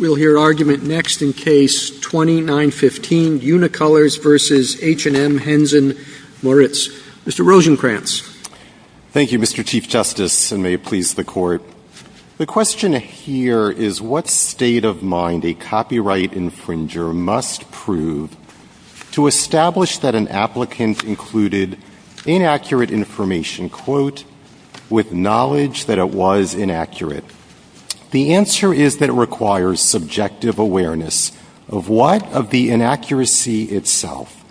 We'll hear argument next in Case 2915, Unicolors v. H&M Hennes & Mauritz. Mr. Rosenkranz. Thank you, Mr. Chief Justice, and may it please the Court. The question here is, what state of mind a copyright infringer must prove to establish that an applicant included inaccurate information, quote, with knowledge that it was inaccurate? The answer is that it requires subjective awareness of what of the inaccuracy itself.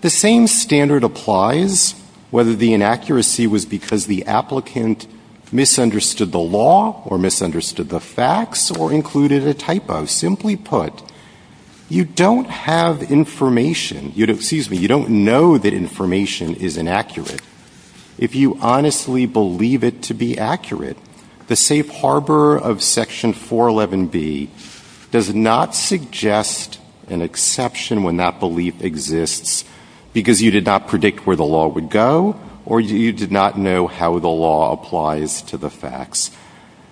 The same standard applies whether the inaccuracy was because the applicant misunderstood the law or misunderstood the facts or included a typo. Simply put, you don't have information, excuse me, you don't know that information is inaccurate. If you honestly believe it to be accurate, the safe harbor of Section 411B does not suggest an exception when that belief exists because you did not predict where the law would go or you did not know how the law applies to the facts.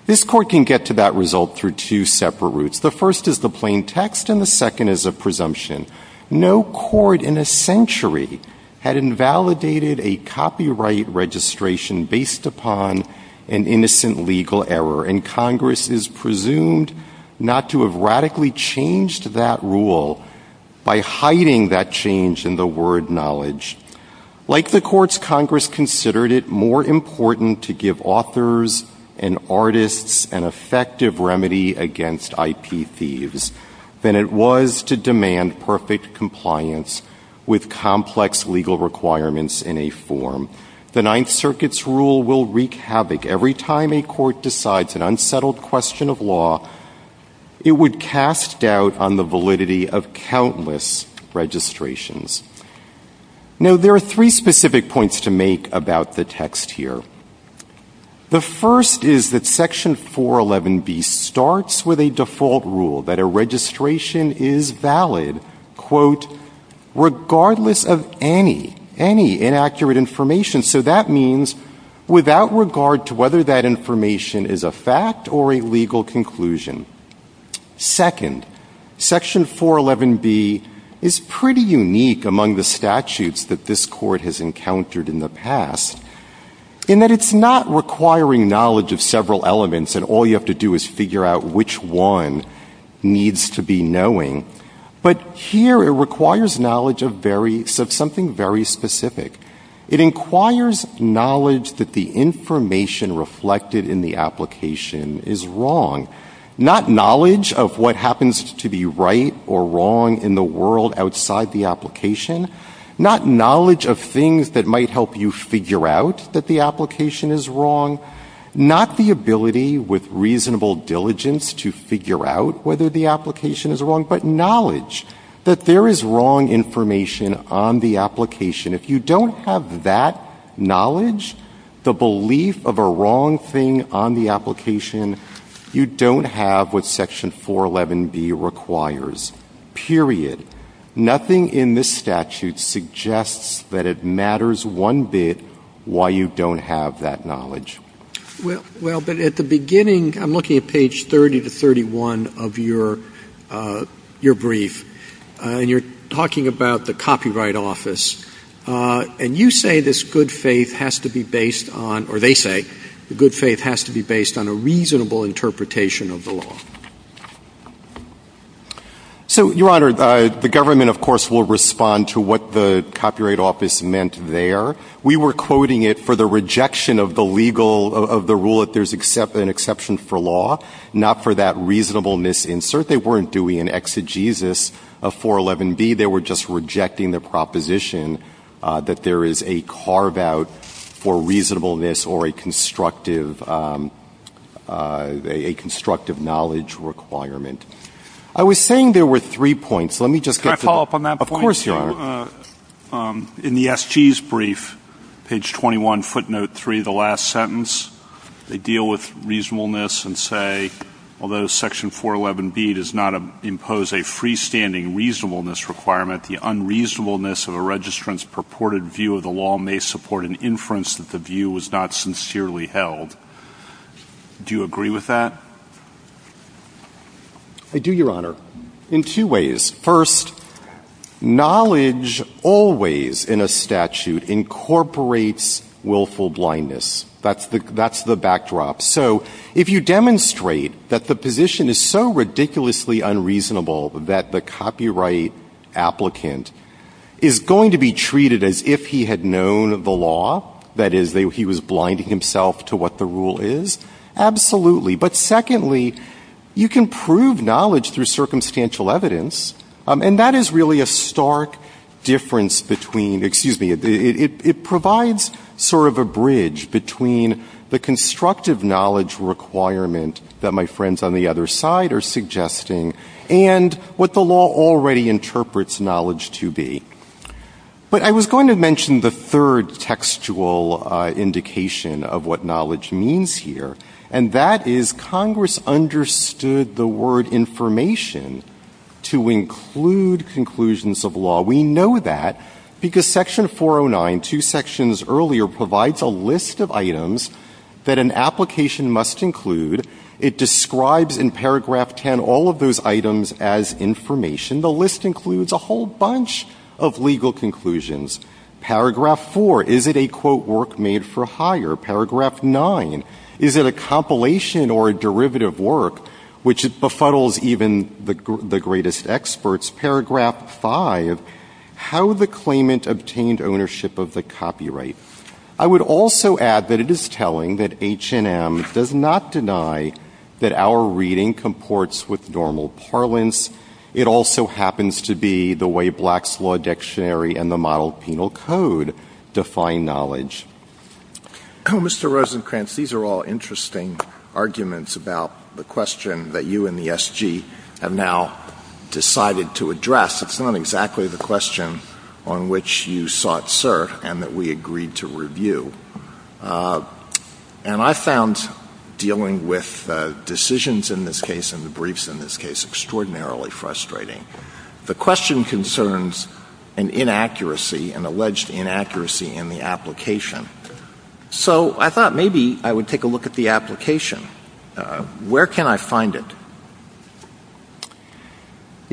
This Court can get to that result through two separate routes. The first is the plain text and the second is a presumption. No court in a century had invalidated a copyright registration based upon an innocent legal error and Congress is presumed not to have radically changed that rule by hiding that change in the word knowledge. Like the courts, Congress considered it more important to give authors and artists an effective remedy against IP thieves than it was to demand perfect compliance with complex legal requirements in a form. The Ninth Circuit's rule will wreak havoc every time a court decides an unsettled question of law. It would cast doubt on the validity of countless registrations. Now there are three specific points to make about the text here. The first is that Section 411B starts with a default rule that a registration is valid quote, regardless of any, any inaccurate information. So that means without regard to whether that information is a fact or a legal conclusion. Second, Section 411B is pretty unique among the statutes that this Court has encountered in the past. In that it's not requiring knowledge of several elements and all you have to do is figure out which one needs to be knowing. But here it requires knowledge of something very specific. It inquires knowledge that the information reflected in the application is wrong. Not knowledge of what happens to be right or wrong in the world outside the application. Not knowledge of things that might help you figure out that the application is wrong. Not the ability with reasonable diligence to figure out whether the application is wrong, but knowledge that there is wrong information on the application. If you don't have that knowledge, the belief of a wrong thing on the application, you don't have what Section 411B requires, period. Nothing in this statute suggests that it matters one bit why you don't have that knowledge. Well, but at the beginning, I'm looking at page 30 to 31 of your brief, and you're talking about the Copyright Office, and you say this good faith has to be based on, or they say the good faith has to be based on a reasonable interpretation of the law. So, Your Honor, the government, of course, will respond to what the Copyright Office meant there. We were quoting it for the rejection of the rule that there's an exception for law, not for that reasonableness insert. They weren't doing an exegesis of 411B. They were just rejecting the proposition that there is a carve-out for reasonableness or a constructive knowledge requirement. I was saying there were three points. Let me just get to... Can I follow up on that point? Of course, Your Honor. In the SG's brief, page 21, footnote 3, the last sentence, they deal with reasonableness and say, although Section 411B does not impose a freestanding reasonableness requirement, the unreasonableness of a registrant's purported view of the law may support an inference that the view was not sincerely held. Do you agree with that? I do, Your Honor, in two ways. First, knowledge always, in a statute, incorporates willful blindness. That's the backdrop. So, if you demonstrate that the position is so ridiculously unreasonable that the copyright applicant is going to be treated as if he had known the law, that is, he was blinding himself to what the rule is, absolutely. But secondly, you can prove knowledge through circumstantial evidence, and that is really a stark difference between... Excuse me. It provides sort of a bridge between the constructive knowledge requirement that my friends on the other side are suggesting and what the law already interprets knowledge to be. But I was going to mention the third textual indication of what knowledge means here, and that is Congress understood the word information to include conclusions of law. We know that because Section 409, two sections earlier, provides a list of items that an and Paragraph 10, all of those items as information, the list includes a whole bunch of legal conclusions. Paragraph 4, is it a, quote, work made for hire? Paragraph 9, is it a compilation or a derivative work which befuddles even the greatest experts? Paragraph 5, how the claimant obtained ownership of the copyright? I would also add that it is telling that H&M does not deny that our reading comports with normal parlance. It also happens to be the way Black's Law Dictionary and the Model Penal Code define knowledge. Mr. Rosenkranz, these are all interesting arguments about the question that you and the SG have now decided to address. It's not exactly the question on which you sought cert and that we agreed to review. And I found dealing with decisions in this case and the briefs in this case extraordinarily frustrating. The question concerns an inaccuracy, an alleged inaccuracy in the application. So I thought maybe I would take a look at the application. Where can I find it?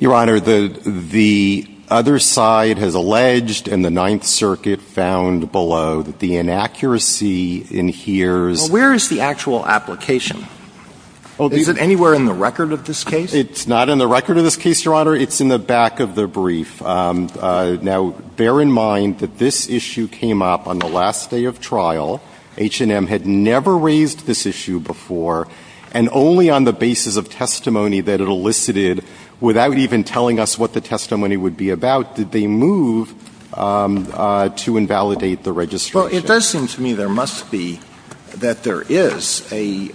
Your Honor, the other side has alleged in the Ninth Circuit found below that the inaccuracy in here's Well, where is the actual application? Is it anywhere in the record of this case? It's not in the record of this case, Your Honor. It's in the back of the brief. Now, bear in mind that this issue came up on the last day of trial. H&M had never raised this issue before, and only on the basis of testimony that it elicited without even telling us what the testimony would be about did they move to invalidate the registration. Well, it does seem to me there must be, that there is a,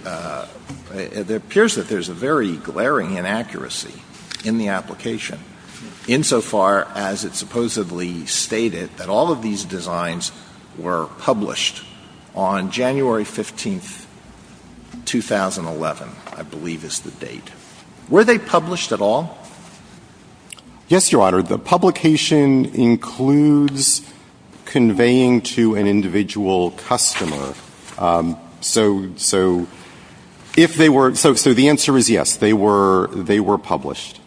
it appears that there's a very glaring inaccuracy in the application, insofar as it supposedly stated that all of these on January 15, 2011, I believe is the date. Were they published at all? Yes, Your Honor. The publication includes conveying to an individual customer. So if they were, so the answer is yes, they were published.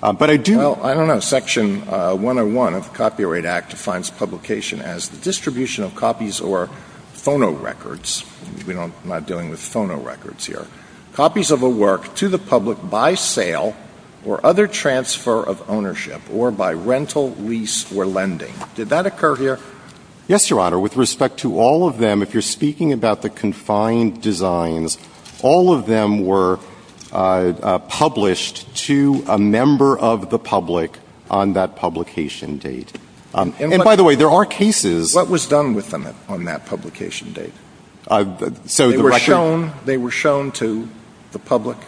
But I do Well, I don't know. Section 101 of the Copyright Act defines publication as the distribution of copies or phonorecords. I'm not dealing with phonorecords here. Copies of a work to the public by sale or other transfer of ownership or by rental, lease, or lending. Did that occur here? Yes, Your Honor. With respect to all of them, if you're speaking about the confined designs, all of them were published to a member of the public on that publication date. And by the way, there are cases What was done with them on that publication date? They were shown to the public?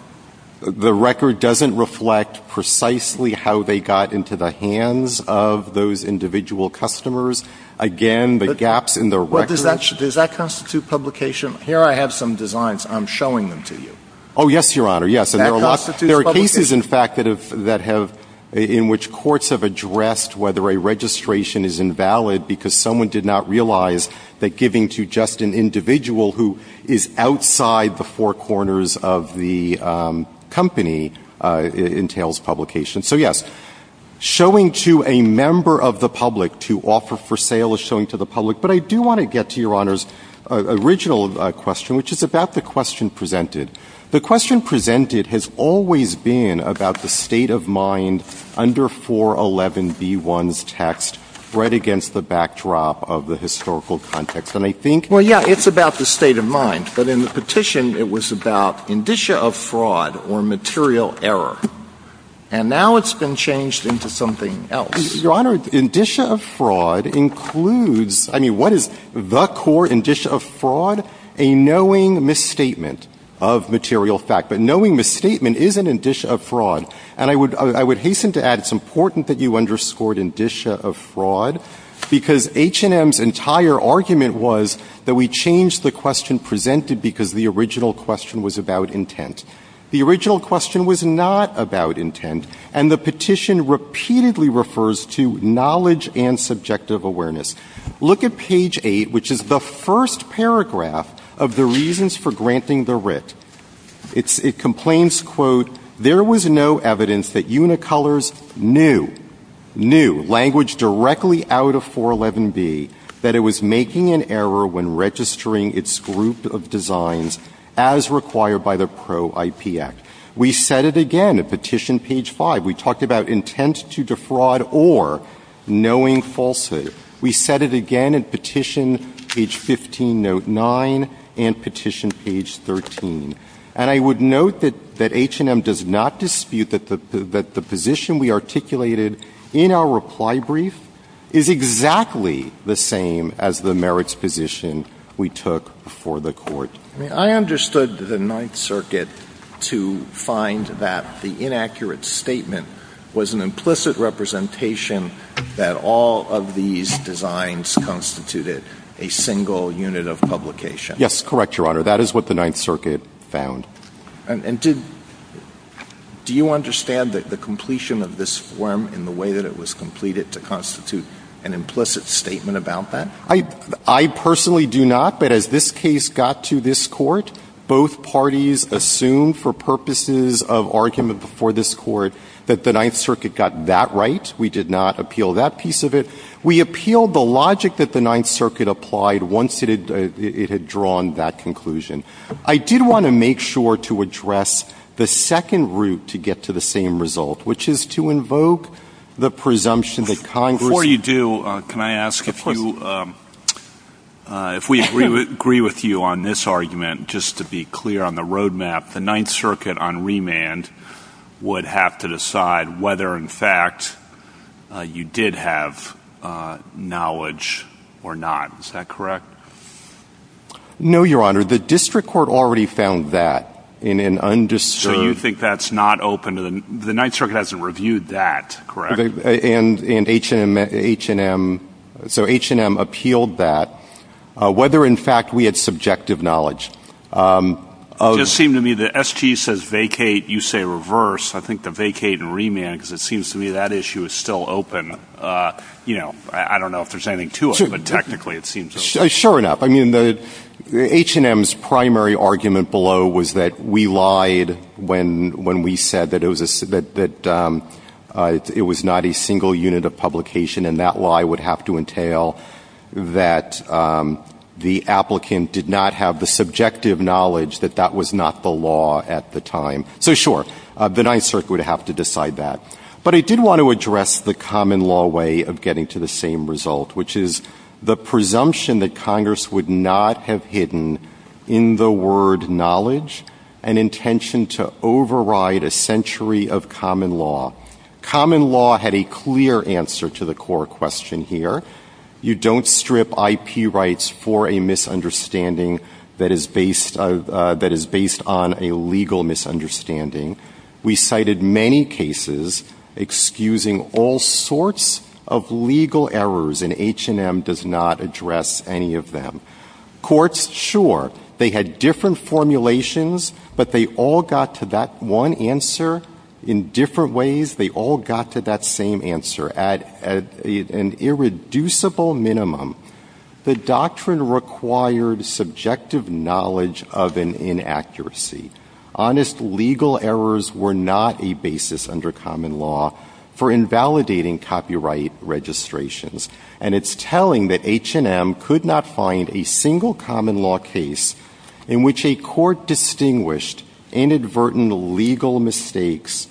The record doesn't reflect precisely how they got into the hands of those individual customers. Again, the gaps in the record Does that constitute publication? Here I have some designs. I'm showing them to you. Oh, yes, Your Honor. There are cases, in fact, that have, in which courts have addressed whether a registration is invalid because someone did not realize that giving to just an individual who is outside the four corners of the company entails publication. So yes, showing to a member of the public to offer for sale is showing to the public. But I do want to get to Your Honor's original question, which is about the question presented. The question presented has always been about the state of mind under 411b1's text, right against the backdrop of the historical context. And I think Well, yeah, it's about the state of mind. But in the petition, it was about indicia of fraud or material error. And now it's been changed into something else. Your Honor, indicia of fraud includes, I mean, what is the court indicia of fraud? A knowing misstatement of material fact. But knowing misstatement is an indicia of fraud. And I would, I would hasten to add it's important that you underscored indicia of fraud. Because H&M's entire argument was that we changed the question presented because the original question was about intent. The original question was not about intent. And the petition repeatedly refers to knowledge and subjective awareness. Look at page 8, which is the first paragraph of the reasons for granting the writ. It complains, quote, there was no evidence that Unicolors knew, knew, language directly out of 411b, that it was making an error when registering its group of designs as required by the Pro-IP Act. We said it again at petition page 5. We talked about intent to defraud or knowing falsehood. We said it again at petition page 15, note 9, and petition page 13. And I would note that H&M does not dispute that the position we articulated in our reply brief is exactly the same as the merits position we took for the court. I understood the Ninth Circuit to find that the inaccurate statement was an implicit representation that all of these designs constituted a single unit of publication. Yes, correct, Your Honor. That is what the Ninth Circuit found. And do you understand that the completion of this form in the way that it was completed to constitute an implicit statement about that? I personally do not, but as this case got to this court, both parties assumed for purposes of argument before this court that the Ninth Circuit got that right. Yes, we did not appeal that piece of it. We appealed the logic that the Ninth Circuit applied once it had drawn that conclusion. I did want to make sure to address the second route to get to the same result, which is to invoke the presumption that Congress— Before you do, can I ask if you—if we agree with you on this argument, just to be clear on the roadmap, the Ninth Circuit on remand would have to decide whether, in fact, you did have knowledge or not. Is that correct? No, Your Honor. The district court already found that in an undisturbed— So you think that's not open to the—the Ninth Circuit hasn't reviewed that, correct? And H&M—so H&M appealed that, whether, in fact, we had subjective knowledge. It does seem to me that SGE says vacate, you say reverse. I think the vacate and remand, because it seems to me that issue is still open. You know, I don't know if there's anything to it, but technically it seems open. Sure enough. I mean, H&M's primary argument below was that we lied when we said that it was not a single unit of publication, and that lie would have to entail that the applicant did not have the subjective knowledge that that was not the law at the time. So sure, the Ninth Circuit would have to decide that. But I did want to address the common law way of getting to the same result, which is the presumption that Congress would not have hidden in the word knowledge an intention to override a century of common law. Common law had a clear answer to the core question here. You don't strip IP rights for a misunderstanding that is based on a legal misunderstanding. We cited many cases excusing all sorts of legal errors, and H&M does not address any of them. Courts, sure, they had different formulations, but they all got to that one answer in different ways. They all got to that same answer at an irreducible minimum. The doctrine required subjective knowledge of an inaccuracy. Honest legal errors were not a basis under common law for invalidating copyright registrations, and it's telling that H&M could not find a single common law case in which a court distinguished inadvertent legal mistakes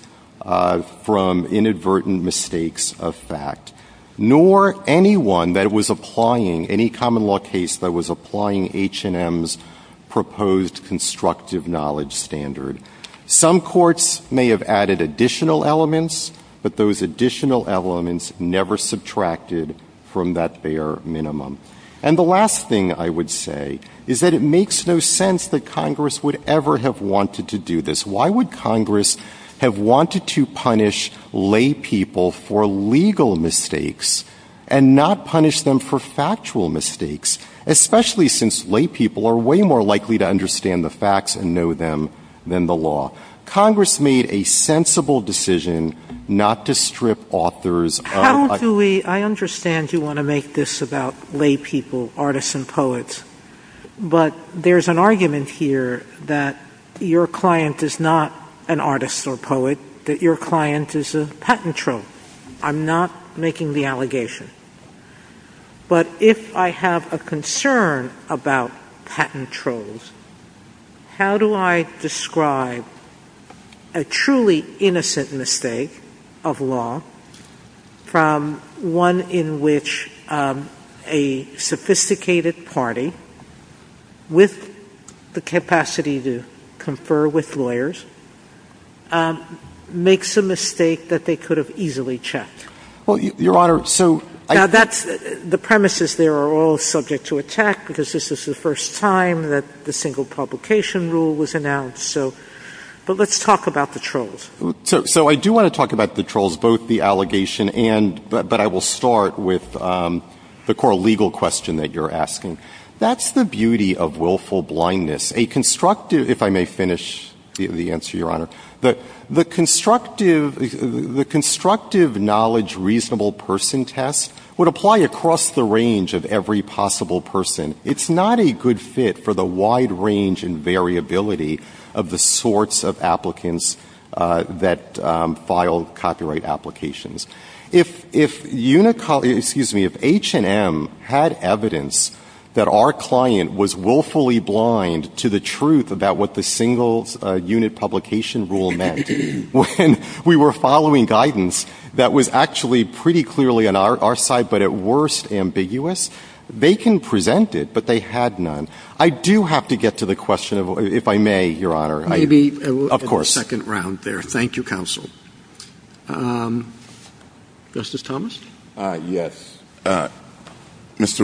from inadvertent mistakes of fact, nor anyone that was applying any common law case that was applying H&M's proposed constructive knowledge standard. Some courts may have added additional elements, but those additional elements never subtracted from that bare minimum. And the last thing I would say is that it makes no sense that Congress would ever have wanted to do this. Why would Congress have wanted to punish lay people for legal mistakes and not punish them for factual mistakes, especially since lay people are way more likely to understand the facts and know them than the law? Congress made a sensible decision not to strip authors of— I understand you want to make this about lay people, artists, and poets, but there's an argument here that your client is not an artist or poet, that your client is a patent troll. I'm not making the allegation. But if I have a concern about patent trolls, how do I describe a truly innocent mistake of law from one in which a sophisticated party with the capacity to confer with lawyers makes a mistake that they could have easily checked? Well, Your Honor, so— Now that's—the premises there are all subject to attack because this is the first time that the single publication rule was announced, so—but let's talk about the trolls. So I do want to talk about the trolls, both the allegation and—but I will start with the core legal question that you're asking. That's the beauty of willful blindness. A constructive—if I may finish the answer, Your Honor—the constructive knowledge reasonable person test would apply across the range of every possible person. It's not a good fit for the wide range and variability of the sorts of applicants that file copyright applications. If—excuse me—if H&M had evidence that our client was willfully blind to the truth about what the single unit publication rule meant, when we were following guidance that was actually pretty clearly on our side, but at worst, ambiguous, they can present it, but they had none. I do have to get to the question of—if I may, Your Honor— Maybe— Of course. —we'll go to the second round there. Thank you, counsel. Justice Thomas? Yes. Mr.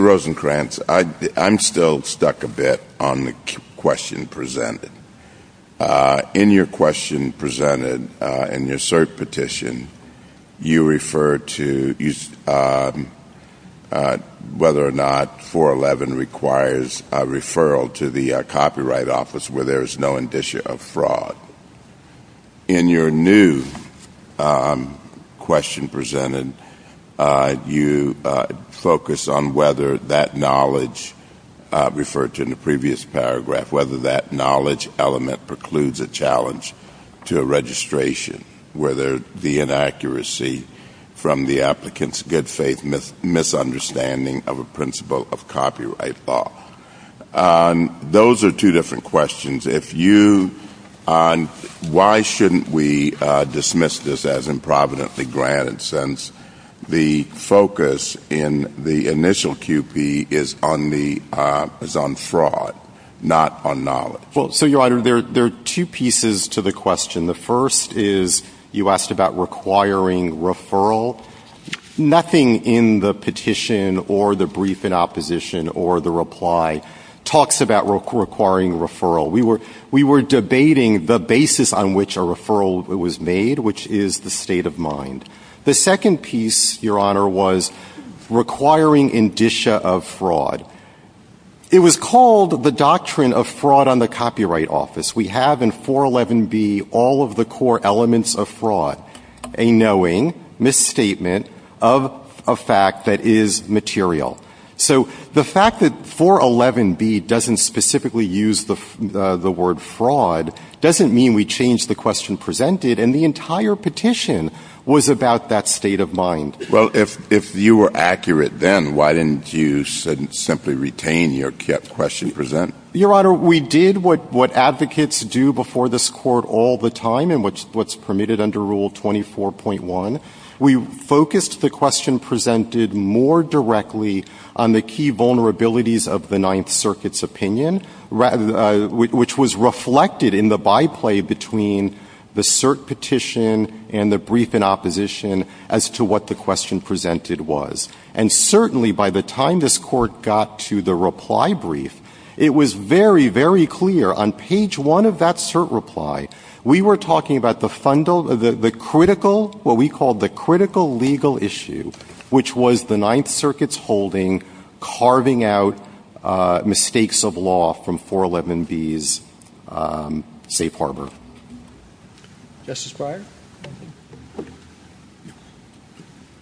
Rosenkranz, I'm still stuck a bit on the question presented. In your question presented and your cert petition, you refer to whether or not 411 requires a referral to the Copyright Office where there is no indicia of fraud. In your new question presented, you focus on whether that knowledge referred to in the knowledge element precludes a challenge to a registration, whether the inaccuracy from the applicant's good faith misunderstanding of a principle of copyright law. Those are two different questions. If you—and why shouldn't we dismiss this as improvidently granted since the focus in the initial QP is on fraud, not on knowledge? Well, so, Your Honor, there are two pieces to the question. The first is you asked about requiring referral. Nothing in the petition or the brief in opposition or the reply talks about requiring referral. We were debating the basis on which a referral was made, which is the state of mind. The second piece, Your Honor, was requiring indicia of fraud. It was called the doctrine of fraud on the Copyright Office. We have in 411B all of the core elements of fraud, a knowing, misstatement of a fact that is material. So the fact that 411B doesn't specifically use the word fraud doesn't mean we changed the state of mind. Well, if you were accurate then, why didn't you simply retain your question present? Your Honor, we did what advocates do before this Court all the time and what's permitted under Rule 24.1. We focused the question presented more directly on the key vulnerabilities of the Ninth Circuit's opinion, which was reflected in the by-play between the cert petition and the brief in opposition as to what the question presented was. And certainly by the time this Court got to the reply brief, it was very, very clear. On page one of that cert reply, we were talking about the critical, what we called the critical legal issue, which was the Ninth Circuit's holding carving out mistakes of law from 411B's safe harbor. Justice Breyer?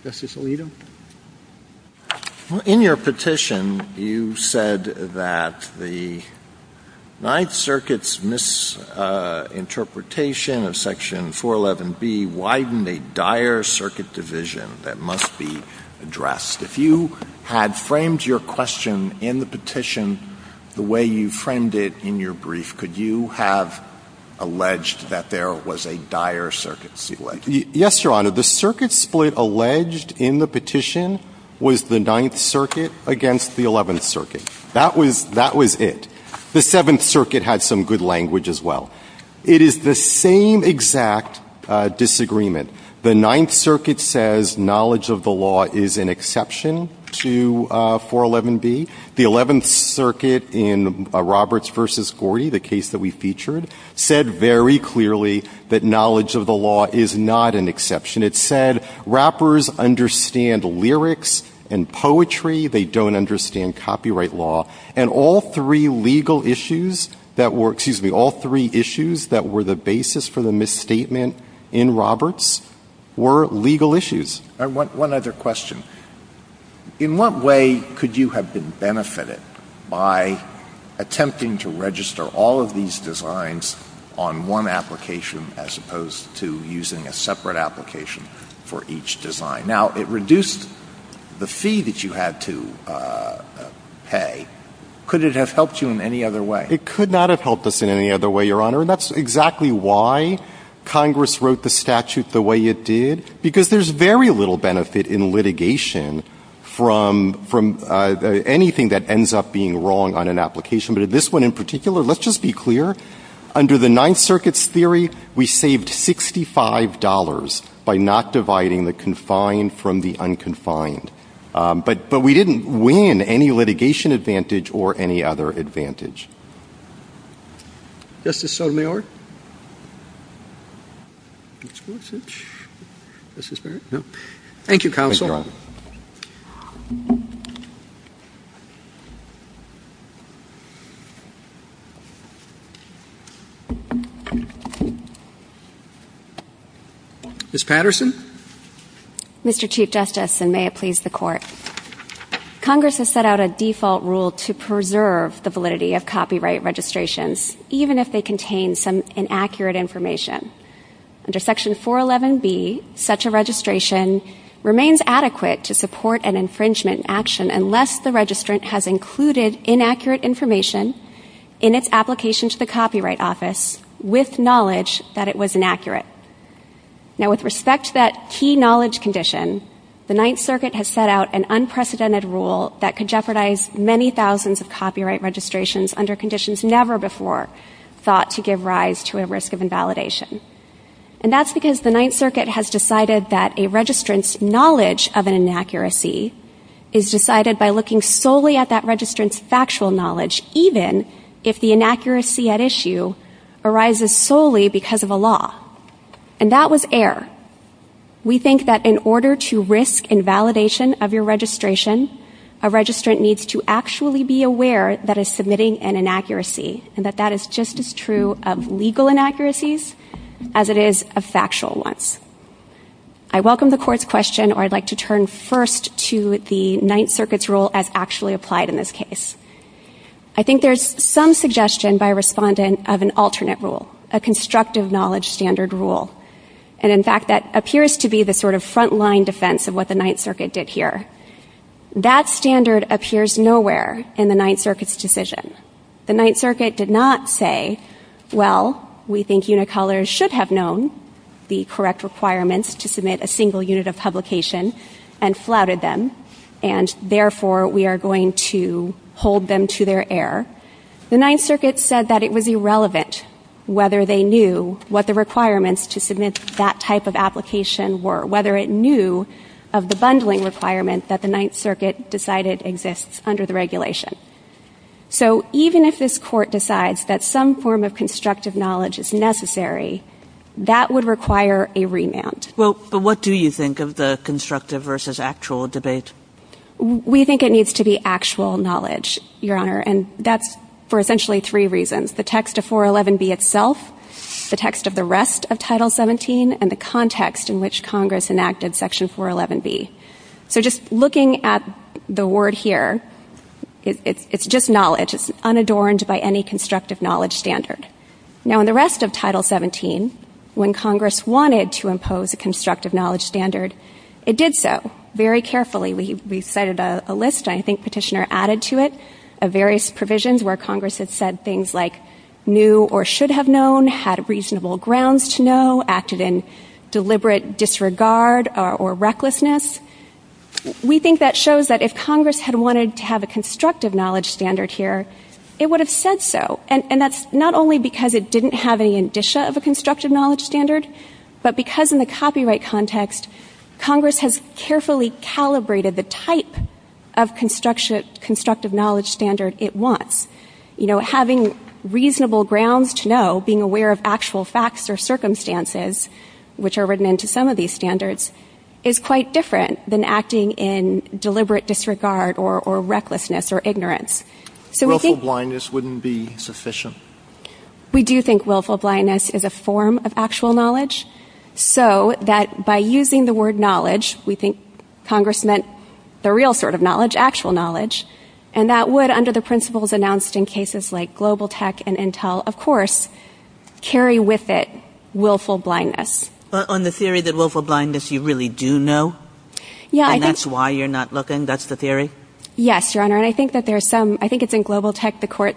Justice Alito? In your petition, you said that the Ninth Circuit's misinterpretation of Section 411B widened a dire circuit division that must be addressed. If you had framed your question in the petition the way you framed it in your brief, could you have alleged that there was a dire circuit split? Yes, Your Honor. The circuit split alleged in the petition was the Ninth Circuit against the Eleventh Circuit. That was it. The Seventh Circuit had some good language as well. It is the same exact disagreement. The Ninth Circuit says knowledge of the law is an exception to 411B. The Eleventh Circuit in Roberts v. Gorey, the case that we featured, said very clearly that knowledge of the law is not an exception. It said rappers understand lyrics and poetry. They don't understand copyright law. All three issues that were the basis for the misstatement in Roberts were legal issues. One other question. In what way could you have been benefited by attempting to register all of these designs on one application as opposed to using a separate application for each design? It reduced the fee that you had to pay. Could it have helped you in any other way? It could not have helped us in any other way, Your Honor. That's exactly why Congress wrote the statute the way it did. There's very little benefit in litigation from anything that ends up being wrong on an application. But in this one in particular, let's just be clear. Under the Ninth Circuit's theory, we saved $65 by not dividing the confined from the unconfined. But we didn't win any litigation advantage or any other advantage. Justice Sotomayor? Thank you, Counsel. Ms. Patterson? Mr. Chief Justice, and may it please the Court. Congress has set out a default rule to preserve the validity of copyright registrations even if they contain some inaccurate information. Under Section 411B, such a registration remains adequate to support an infringement action unless the registrant has included inaccurate information in its application to the Copyright Office with knowledge that it was inaccurate. Now, with respect to that key knowledge condition, the Ninth Circuit has set out an unprecedented rule that could jeopardize many thousands of copyright registrations under conditions never before thought to give rise to a risk of invalidation. And that's because the Ninth Circuit has decided that a registrant's knowledge of an inaccuracy is decided by looking solely at that registrant's factual knowledge even if the inaccuracy at issue arises solely because of a law. And that was error. We think that in order to risk invalidation of your registration, a registrant needs to actually be aware that it's submitting an inaccuracy, and that that is just as true of legal inaccuracies as it is of factual ones. I welcome the court's question, or I'd like to turn first to the Ninth Circuit's rule as actually applied in this case. I think there's some suggestion by a respondent of an alternate rule, a constructive knowledge standard rule. And in fact, that appears to be the sort of front-line defense of what the Ninth Circuit did here. That standard appears nowhere in the Ninth Circuit's decision. The Ninth Circuit did not say, Well, we think unicolors should have known the correct requirements to submit a single unit of publication and flouted them, and therefore we are going to hold them to their error. The Ninth Circuit said that it was irrelevant whether they knew what the requirements to submit that type of application were, whether it knew of the bundling requirements that the Ninth Circuit decided exists under the regulation. So even if this court decides that some form of constructive knowledge is necessary, that would require a remand. Well, what do you think of the constructive versus actual debate? We think it needs to be actual knowledge, Your Honor, and that's for essentially three reasons. The text of 411B itself, the text of the rest of Title 17, and the context in which Congress enacted Section 411B. So just looking at the word here, it's just knowledge. It's unadorned by any constructive knowledge standard. Now, in the rest of Title 17, when Congress wanted to impose a constructive knowledge standard, it did so very carefully. We cited a list, I think Petitioner added to it, of various provisions where Congress had said things like knew or should have known, had reasonable grounds to know, acted in deliberate disregard or recklessness. We think that shows that if Congress had wanted to have a constructive knowledge standard here, it would have said so. And that's not only because it didn't have any indicia of a constructive knowledge standard, but because in the copyright context, Congress has carefully calibrated the type of constructive knowledge standard it wants. You know, having reasonable grounds to know, being aware of actual facts or circumstances, which are written into some of these standards, is quite different than acting in deliberate disregard or recklessness or ignorance. Willful blindness wouldn't be sufficient. We do think willful blindness is a form of actual knowledge, so that by using the word knowledge, we think Congress meant the real sort of knowledge, actual knowledge, and that would, under the principles announced in cases like Global Tech and Intel, of course, carry with it willful blindness. But on the theory that willful blindness you really do know, and that's why you're not looking, that's the theory? Yes, Your Honor, and I think that there's some, I think it's in Global Tech, the court,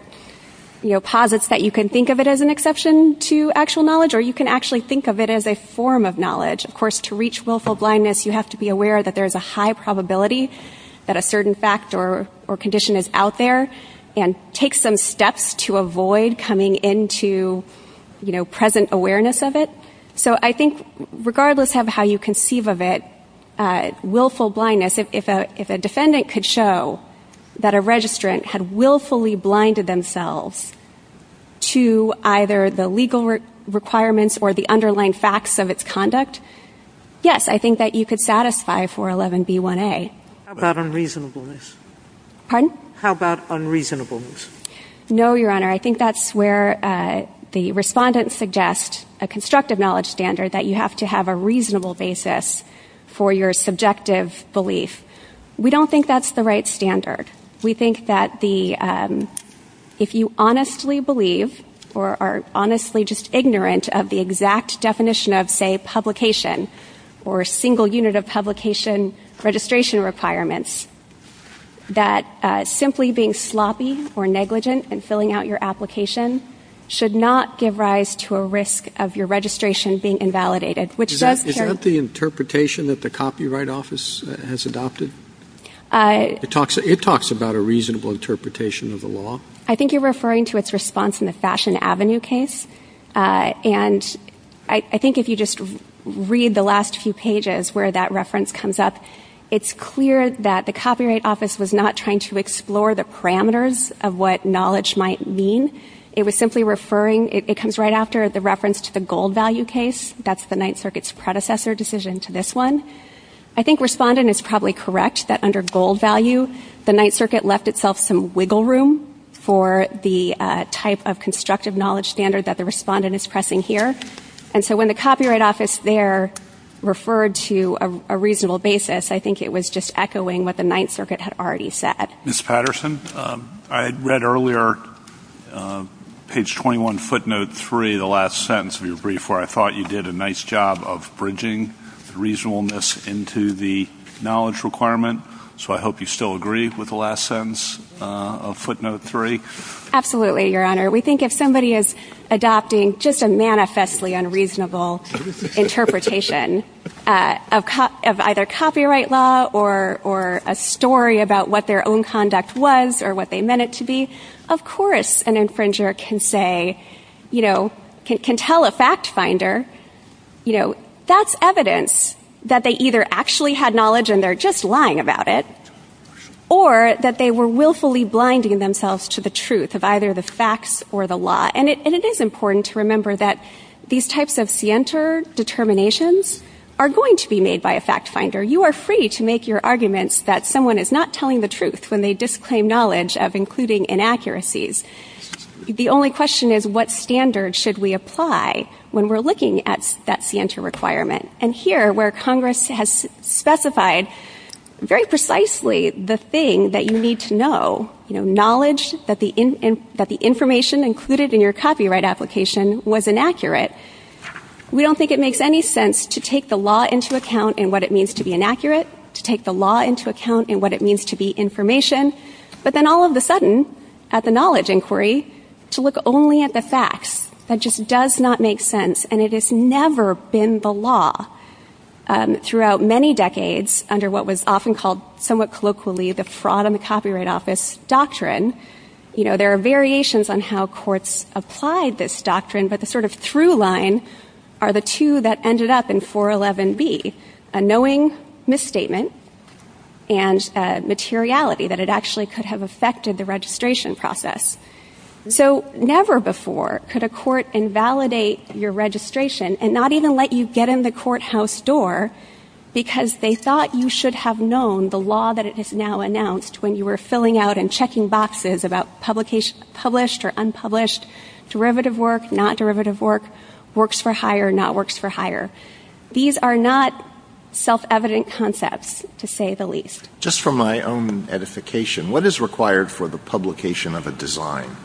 you know, posits that you can think of it as an exception to actual knowledge or you can actually think of it as a form of knowledge. Of course, to reach willful blindness, you have to be aware that there's a high probability that a certain fact or condition is out there and take some steps to avoid coming into, you know, present awareness of it. So I think regardless of how you conceive of it, willful blindness, if a defendant could show that a registrant had willfully blinded themselves to either the legal requirements or the underlying facts of its conduct, yes, I think that you could satisfy 411B1A. How about unreasonableness? Pardon? How about unreasonableness? No, Your Honor, I think that's where the respondents suggest a constructive knowledge standard that you have to have a reasonable basis for your subjective belief. We don't think that's the right standard. We think that the, if you honestly believe or are honestly just ignorant of the exact definition of, say, publication or single unit of publication registration requirements, that simply being sloppy or negligent in filling out your application should not give rise to a risk of your registration being invalidated, which does carry... Is that the interpretation that the Copyright Office has adopted? It talks about a reasonable interpretation of the law. I think you're referring to its response in the Fashion Avenue case, and I think if you just read the last few pages where that reference comes up, it's clear that the Copyright Office was not trying to explore the parameters of what knowledge might mean. It was simply referring... It comes right after the reference to the gold value case. That's the Ninth Circuit's predecessor decision to this one. I think Respondent is probably correct that under gold value, the Ninth Circuit left itself some wiggle room for the type of constructive knowledge standard that the Respondent is pressing here. And so when the Copyright Office there referred to a reasonable basis, I think it was just echoing what the Ninth Circuit had already said. Ms. Patterson, I read earlier page 21, footnote 3, the last sentence of your brief where I thought you did a nice job of bridging the reasonableness into the knowledge requirement, so I hope you still agree with the last sentence of footnote 3. Absolutely, Your Honor. We think if somebody is adopting just a manifestly unreasonable interpretation of either copyright law or a story about what their own conduct was or what they meant it to be, of course an infringer can tell a fact finder that's evidence that they either actually had knowledge and they're just lying about it or that they were willfully blinding themselves to the truth of either the facts or the law. And it is important to remember that these types of scienter determinations are going to be made by a fact finder. You are free to make your arguments that someone is not telling the truth when they disclaim knowledge of including inaccuracies. The only question is what standard should we apply when we're looking at that scienter requirement? And here where Congress has specified very precisely the thing that you need to know, knowledge that the information included in your copyright application was inaccurate, we don't think it makes any sense to take the law into account and what it means to be inaccurate, to take the law into account and what it means to be information, but then all of a sudden, at the knowledge inquiry, to look only at the facts. That just does not make sense, and it has never been the law. Throughout many decades, under what was often called somewhat colloquially the Fraud on the Copyright Office doctrine, there are variations on how courts applied this doctrine, but the sort of through line are the two that ended up in 411B, a knowing misstatement and a materiality that it actually could have affected the registration process. So never before could a court invalidate your registration and not even let you get in the courthouse door because they thought you should have known the law that it has now announced when you were filling out and checking boxes about published or unpublished derivative work, not derivative work, works for hire, not works for hire. These are not self-evident concepts, to say the least. Just for my own edification, what is required for the publication of a design?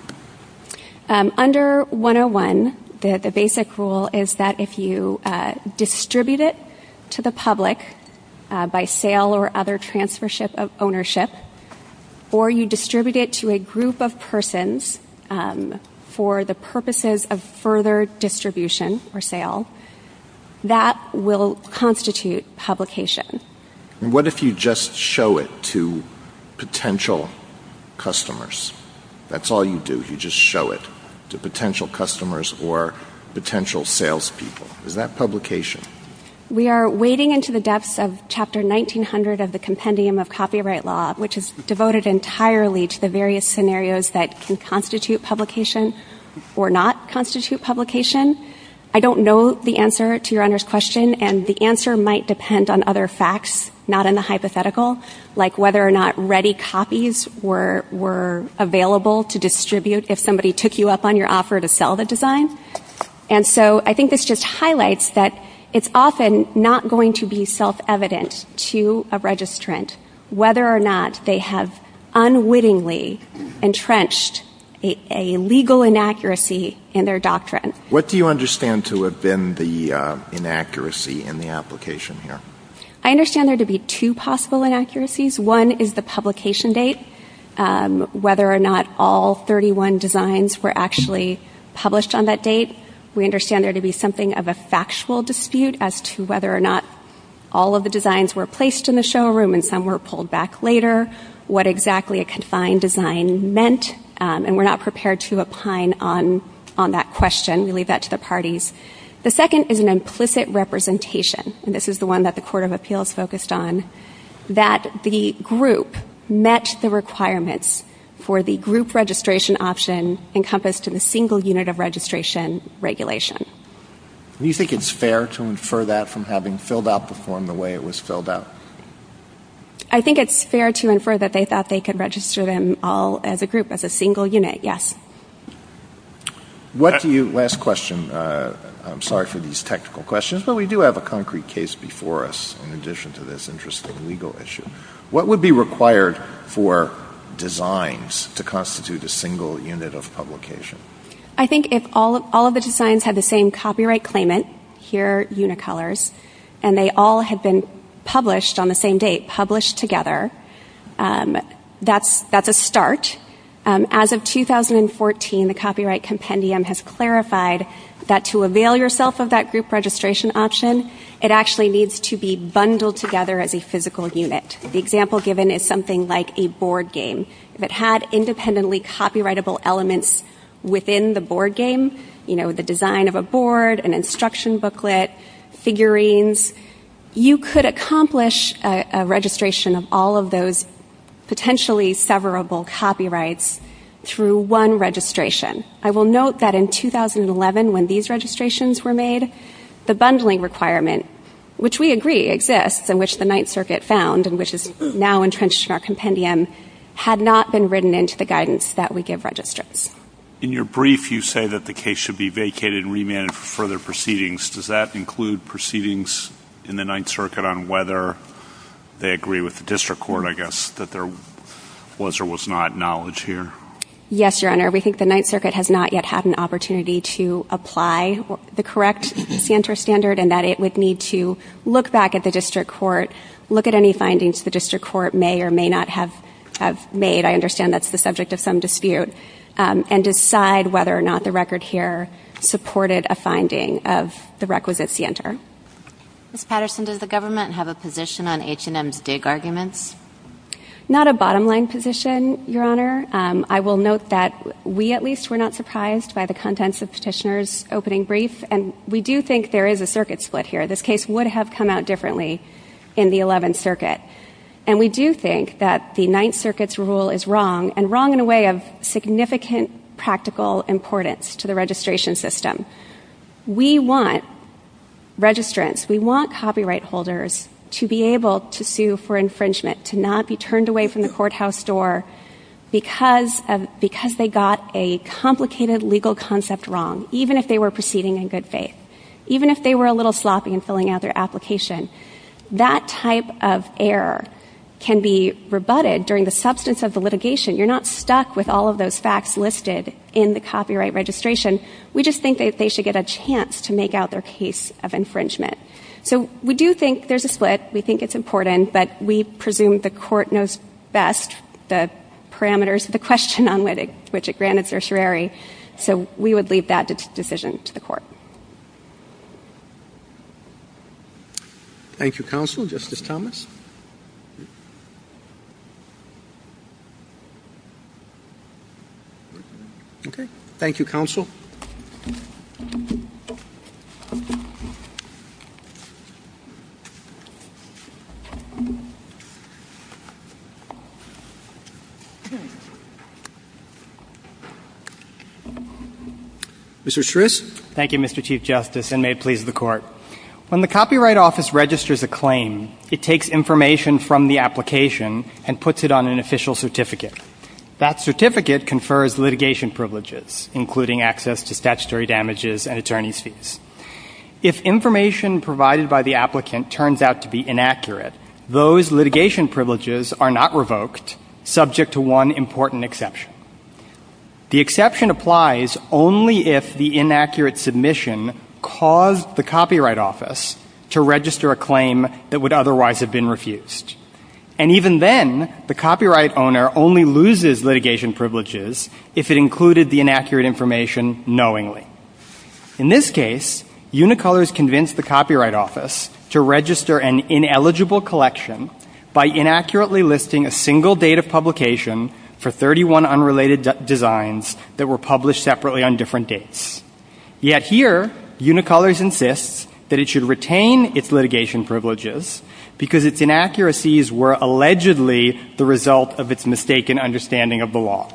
Under 101, the basic rule is that if you distribute it to the public by sale or other transfers of ownership, or you distribute it to a group of persons for the purposes of further distribution or sale, that will constitute publication. What if you just show it to potential customers? That's all you do. You just show it to potential customers or potential salespeople. Is that publication? We are wading into the depths of Chapter 1900 of the Compendium of Copyright Law, which is devoted entirely to the various scenarios that can constitute publication or not constitute publication. I don't know the answer to your Honor's question, and the answer might depend on other facts, not in the hypothetical, like whether or not ready copies were available to distribute if somebody took you up on your offer to sell the design. I think this just highlights that it's often not going to be self-evident to a registrant whether or not they have unwittingly entrenched a legal inaccuracy in their doctrine. What do you understand to have been the inaccuracy in the application here? I understand there to be two possible inaccuracies. One is the publication date, whether or not all 31 designs were actually published on that date. We understand there to be something of a factual dispute as to whether or not all of the designs were placed in the showroom and some were pulled back later, what exactly a confined design meant, and we're not prepared to opine on that question. We leave that to the parties. The second is an implicit representation. This is the one that the Court of Appeals focused on, that the group met the requirements for the group registration option encompassed in a single unit of registration regulation. Do you think it's fair to infer that from having filled out the form the way it was filled out? I think it's fair to infer that they thought they could register them all as a group, as a single unit, yes. Last question. I'm sorry for these technical questions, but we do have a concrete case before us in addition to this interesting legal issue. What would be required for designs to constitute a single unit of publication? I think if all of the designs had the same copyright claimant, here, Unicolors, and they all had been published on the same date, published together, that's a start. As of 2014, the Copyright Compendium has clarified that to avail yourself of that group registration option, it actually needs to be bundled together as a physical unit. The example given is something like a board game. If it had independently copyrightable elements within the board game, you know, the design of a board, an instruction booklet, figurines, you could accomplish a registration of all of those potentially severable copyrights through one registration. I will note that in 2011, when these registrations were made, the bundling requirement, which we agree exists, and which the Ninth Circuit found, and which is now entrenched in our Compendium, had not been written into the guidance that we give registrants. In your brief, you say that the case should be vacated and remanded for further proceedings. Does that include proceedings in the Ninth Circuit on whether they agree with the district court, I guess, that there was or was not knowledge here? Yes, Your Honor. We think the Ninth Circuit has not yet had an opportunity to apply the correct CNTR standard and that it would need to look back at the district court, look at any findings the district court may or may not have made, I understand that's the subject of some dispute, and decide whether or not the record here supported a finding of the requisite CNTR. Ms. Patterson, does the government have a position on H&M's dig arguments? Not a bottom-line position, Your Honor. I will note that we at least were not surprised by the contents of Petitioner's opening brief, and we do think there is a circuit split here. This case would have come out differently in the Eleventh Circuit, and we do think that the Ninth Circuit's rule is wrong, and wrong in a way of significant practical importance to the registration system. We want registrants, we want copyright holders to be able to sue for infringement, to not be turned away from the courthouse door because they got a complicated legal concept wrong, even if they were proceeding in good faith, even if they were a little sloppy in filling out their application. That type of error can be rebutted during the substance of the litigation. You're not stuck with all of those facts listed in the copyright registration. We just think that they should get a chance to make out their case of infringement. So we do think there's a split. We think it's important, but we presume the court knows best the parameters of the question on which it granted certiorari, so we would leave that decision to the court. Thank you, Counsel, Justice Thomas. Okay. Thank you, Counsel. Mr. Shrews? Thank you, Mr. Chief Justice, and may it please the Court. When the Copyright Office registers a claim, it takes information from the application and puts it on an official certificate. That certificate confers litigation privileges, including access to statutory damages and attorney's fees. If information provided by the applicant those litigation privileges are not revoked, and the application is not revoked. subject to one important exception. The exception applies only if the inaccurate submission caused the Copyright Office to register a claim that would otherwise have been refused. And even then, the copyright owner only loses litigation privileges if it included the inaccurate information knowingly. In this case, Unicolor has convinced the Copyright Office to register an ineligible collection by inaccurately listing a single date of publication for 31 unrelated designs that were published separately on different dates. Yet here, Unicolor insists that it should retain its litigation privileges because its inaccuracies were allegedly the result of its mistaken understanding of the law.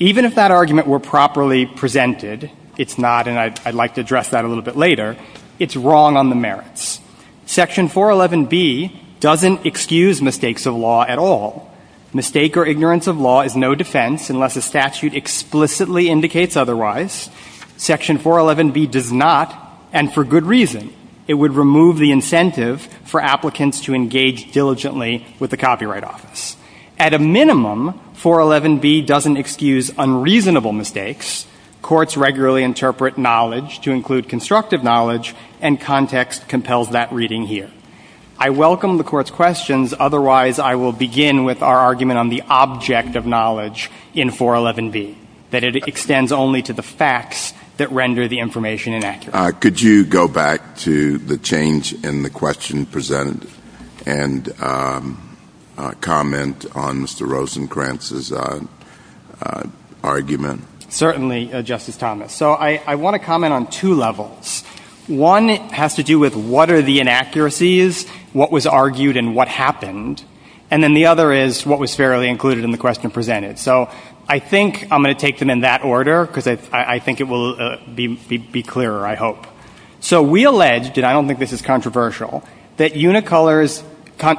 Even if that argument were properly presented, it's not, and I'd like to address that a little bit later, it's wrong on the merits. Section 411B doesn't excuse mistakes of law at all. Mistake or ignorance of law is no defense unless a statute explicitly indicates otherwise. Section 411B does not, and for good reason. It would remove the incentive for applicants to engage diligently with the Copyright Office. At a minimum, 411B doesn't excuse unreasonable mistakes. Courts regularly interpret knowledge to include constructive knowledge and context compels that reading here. I welcome the Court's questions, otherwise I will begin with our argument on the object of knowledge in 411B, that it extends only to the facts that render the information inaccurate. Could you go back to the change in the question presented and comment on Mr. Rosenkranz's argument? Certainly, Justice Thomas. So I want to comment on two levels. One has to do with what are the inaccuracies, what was argued and what happened, and then the other is what was fairly included in the question presented. So I think I'm going to take them in that order because I think it will be clearer, I hope. So we alleged, and I don't think this is controversial, that Unicolors...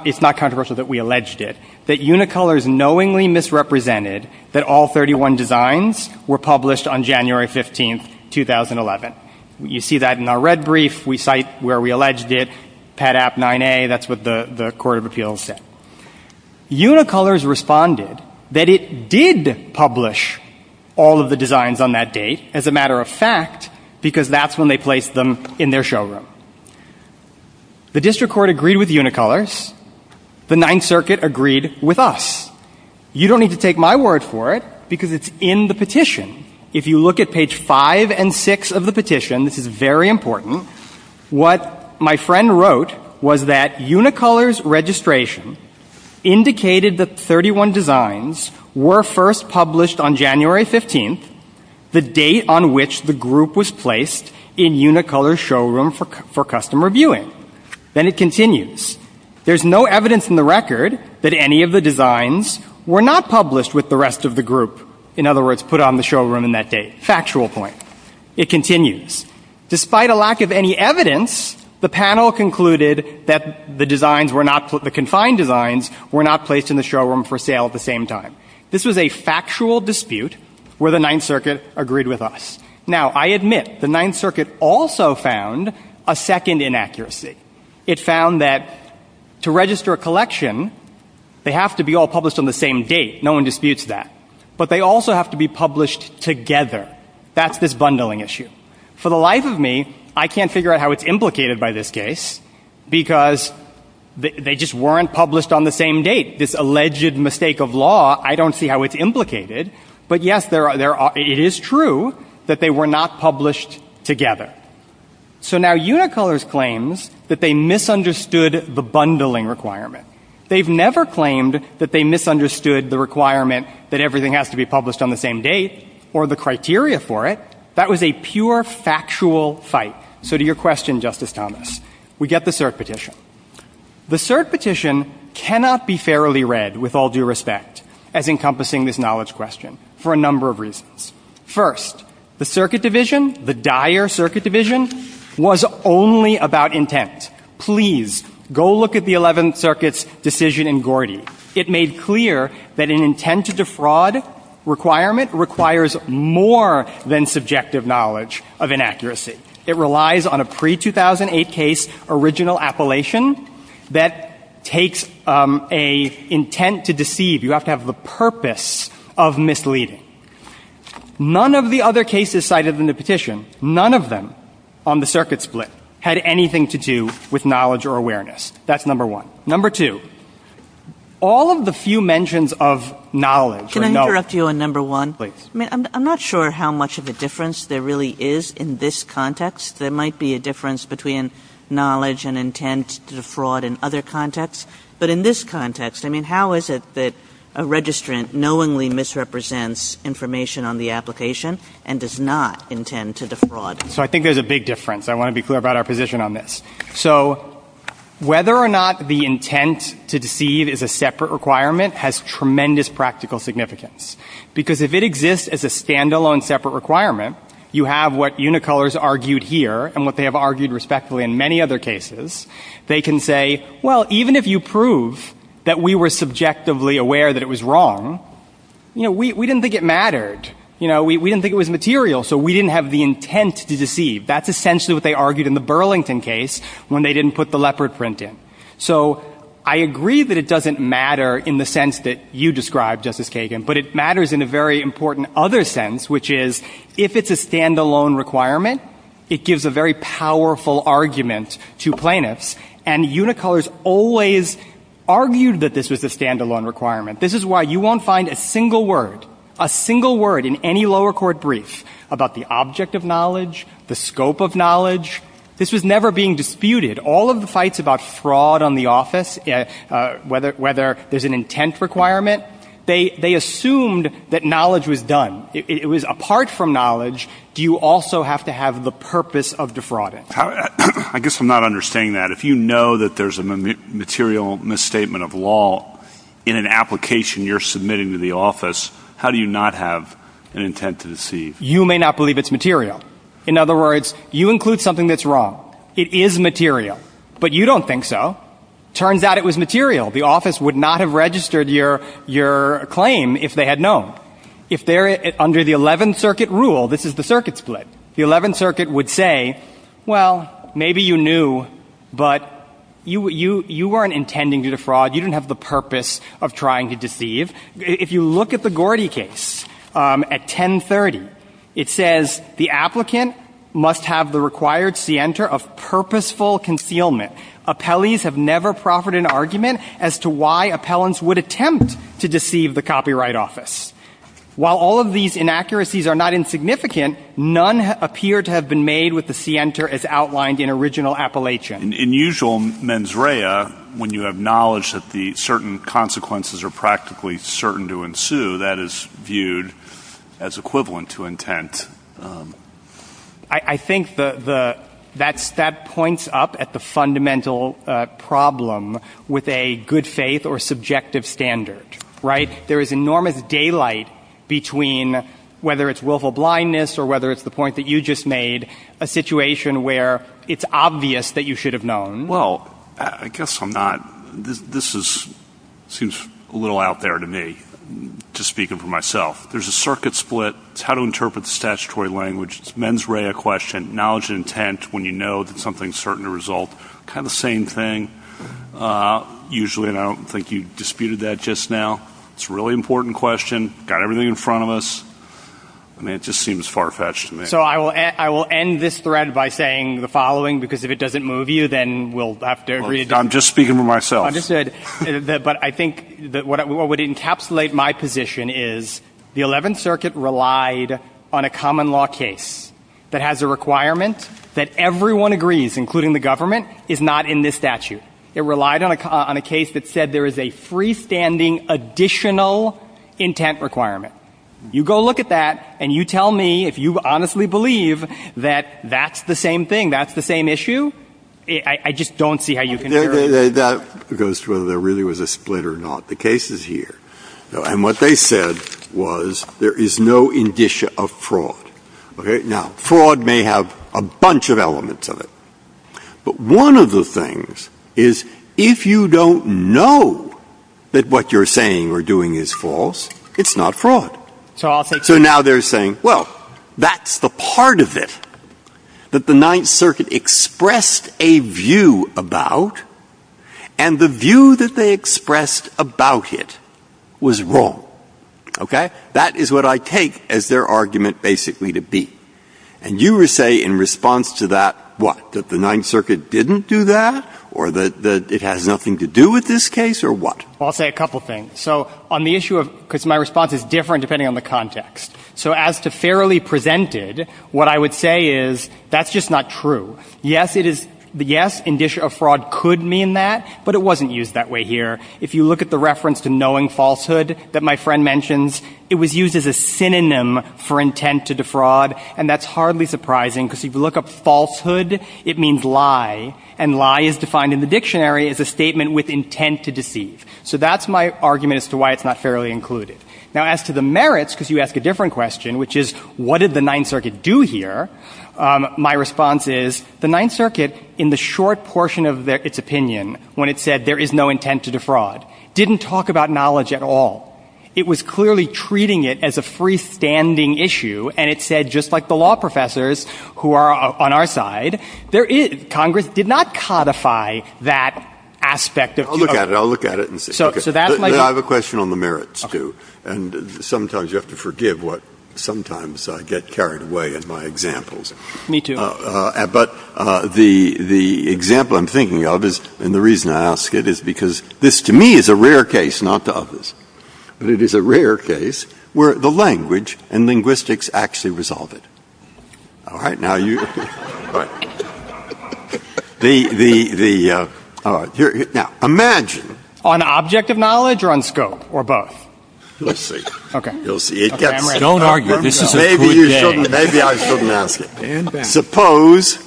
It's not controversial that we alleged it, that Unicolors knowingly misrepresented that all 31 designs were published on January 15, 2011. You see that in our red brief. We cite where we alleged it, PADAP 9A. That's what the Court of Appeals said. Unicolors responded that it did publish all of the designs on that date, as a matter of fact, because that's when they placed them in their showroom. The District Court agreed with Unicolors. The Ninth Circuit agreed with us. You don't need to take my word for it because it's in the petition. If you look at page 5 and 6 of the petition, this is very important, what my friend wrote was that Unicolors' registration indicated that 31 designs were first published on January 15, the date on which the group was placed in Unicolors' showroom for customer viewing. Then it continues. There's no evidence in the record that any of the designs were not published with the rest of the group. In other words, put on the showroom on that date. Factual point. It continues. Despite a lack of any evidence, the panel concluded that the designs were not, the confined designs were not placed in the showroom for sale at the same time. This was a factual dispute where the Ninth Circuit agreed with us. Now, I admit, the Ninth Circuit also found a second inaccuracy. It found that to register a collection, they have to be all published on the same date. No one disputes that. But they also have to be published together. That's this bundling issue. For the life of me, I can't figure out how it's implicated by this case because they just weren't published on the same date. This alleged mistake of law, I don't see how it's implicated. But yes, it is true that they were not published together. So now Unicolors claims that they misunderstood the bundling requirement. They've never claimed that they misunderstood the requirement that everything has to be published on the same date or the criteria for it. That was a pure factual fight. So to your question, Justice Thomas, we get the cert petition. The cert petition cannot be fairly read, with all due respect, as encompassing this knowledge question for a number of reasons. First, the Circuit Division, the dire Circuit Division, was only about intent. Please, go look at the Eleventh Circuit's decision in Gordy. It made clear that an intent to defraud requirement requires more than subjective knowledge of inaccuracy. It relies on a pre-2008 case original appellation that takes an intent to deceive. You have to have the purpose of misleading. None of the other cases cited in the petition, none of them on the circuit split, had anything to do with knowledge or awareness. That's number one. Number two, all of the few mentions of knowledge... Can I interrupt you on number one? I'm not sure how much of a difference there really is in this context. There might be a difference between knowledge and intent to defraud in other contexts, but in this context, I mean, how is it that a registrant knowingly misrepresents information on the application and does not intend to defraud? So I think there's a big difference. I want to be clear about our position on this. So whether or not the intent to deceive is a separate requirement has tremendous practical significance. Because if it exists as a stand-alone separate requirement, you have what Unicolors argued here and what they have argued respectfully in many other cases. They can say, well, even if you prove that we were subjectively aware that it was wrong, you know, we didn't think it mattered. You know, we didn't think it was material, so we didn't have the intent to deceive. That's essentially what they argued in the Burlington case when they didn't put the leopard print in. So I agree that it doesn't matter in the sense that you described, Justice Kagan, but it matters in a very important other sense, which is if it's a stand-alone requirement, it gives a very powerful argument to plaintiffs. And Unicolors always argued that this was a stand-alone requirement. This is why you won't find a single word, a single word in any lower court brief about the object of knowledge, the scope of knowledge. This was never being disputed. All of the fights about fraud on the office, whether there's an intent requirement, they assumed that knowledge was done. It was apart from knowledge, do you also have to have the purpose of defrauding? I guess I'm not understanding that. If you know that there's a material misstatement of law in an application you're submitting to the office, how do you not have an intent to deceive? You may not believe it's material. In other words, you include something that's wrong. It is material, but you don't think so. Turns out it was material. The office would not have registered your claim if they had known. If they're under the 11th Circuit rule, this is the circuit split, the 11th Circuit would say, well, maybe you knew, but you weren't intending to defraud, you didn't have the purpose of trying to deceive. If you look at the Gordy case at 1030, it says the applicant must have the required scienter of purposeful concealment. Appellees have never proffered an argument as to why appellants would attempt to deceive the copyright office. While all of these inaccuracies are not insignificant, none appear to have been made with the scienter as outlined in original appellation. In usual mens rea, when you have knowledge that certain consequences are practically certain to ensue, that is viewed as equivalent to intent. I think that points up at the fundamental problem with a good faith or subjective standard, right? There is enormous daylight between whether it's willful blindness or whether it's the point that you just made, a situation where it's obvious that you should have known. Well, I guess I'm not... This seems a little out there to me just speaking for myself. There's a circuit split. It's how to interpret the statutory language. It's mens rea question. Knowledge and intent when you know that something's certain to result. Kind of the same thing. Usually I don't think you disputed that just now. It's a really important question. Got everything in front of us. I mean, it just seems far-fetched to me. So I will end this thread by saying the following because if it doesn't move you, then we'll have to agree... I'm just speaking for myself. But I think what would encapsulate my position is the 11th Circuit relied on a common law case that has a requirement that everyone agrees, including the government, is not in this statute. It relied on a case that said there is a freestanding additional intent requirement. You go look at that and you tell me if you honestly believe that that's the same thing, that's the same issue. I just don't see how you can... That goes to whether there really was a split or not. The case is here. And what they said was there is no indicia of fraud. Now, fraud may have a bunch of elements of it. But one of the things is if you don't know that what you're saying or doing is false, it's not fraud. So now they're saying, well, that's the part of it that the 9th Circuit expressed a view about, and the view that they expressed about it was wrong. Okay? That is what I take as their argument basically to be. And you would say in response to that, what? That the 9th Circuit didn't do that? Or that it has nothing to do with this case? Or what? I'll say a couple things. So on the issue of... Because my response is different depending on the context. So as to fairly presented, what I would say is that's just not true. Yes, it is... Yes, indicia of fraud could mean that, but it wasn't used that way here. If you look at the reference to knowing falsehood that my friend mentions, it was used as a synonym for intent to defraud. And that's hardly surprising because if you look up falsehood, it means lie. And lie is defined in the dictionary as a statement with intent to deceive. So that's my argument as to why it's not fairly included. Now, as to the merits, because you asked a different question, which is, what did the 9th Circuit do here? My response is the 9th Circuit, in the short portion of its opinion, when it said there is no intent to defraud, didn't talk about knowledge at all. It was clearly treating it as a freestanding issue. And it said, just like the law professors who are on our side, there is... Congress did not codify that aspect of... I'll look at it. I'll look at it and see. I have a question on the merits too. And sometimes you have to forgive what... Sometimes I get carried away in my examples. Me too. But the example I'm thinking of is... And the reason I ask it is because this, to me, is a rare case, not to others. It is a rare case where the language and linguistics actually resolve it. All right? Now, you... All right. The... Now, imagine... On object of knowledge or on scope, or both? Let's see. Okay. Don't argue. Maybe you shouldn't... Maybe I shouldn't ask it. Suppose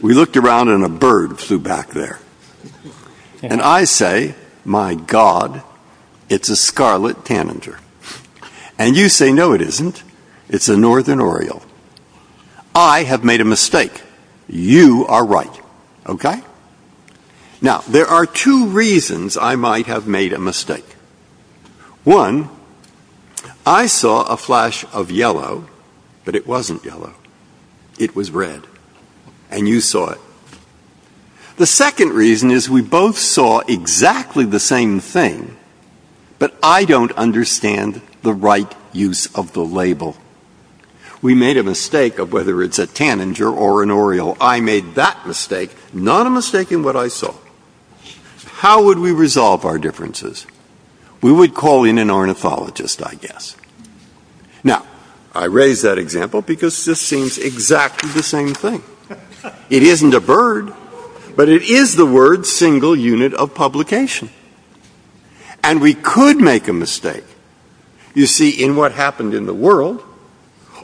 we looked around and a bird flew back there. And I say, my God, it's a scarlet tanager. And you say, no, it isn't. It's a northern oriole. I have made a mistake. You are right. Okay? Now, there are two reasons I might have made a mistake. One, I saw a flash of yellow, but it wasn't yellow. It was red. And you saw it. The second reason is we both saw exactly the same thing, but I don't understand the right use of the label. We made a mistake of whether it's a tanager or an oriole. I made that mistake, not a mistake in what I saw. How would we resolve our differences? We would call in an ornithologist, I guess. Now, I raise that example because this seems exactly the same thing. It isn't a bird, but it is the word single unit of publication. And we could make a mistake, you see, in what happened in the world,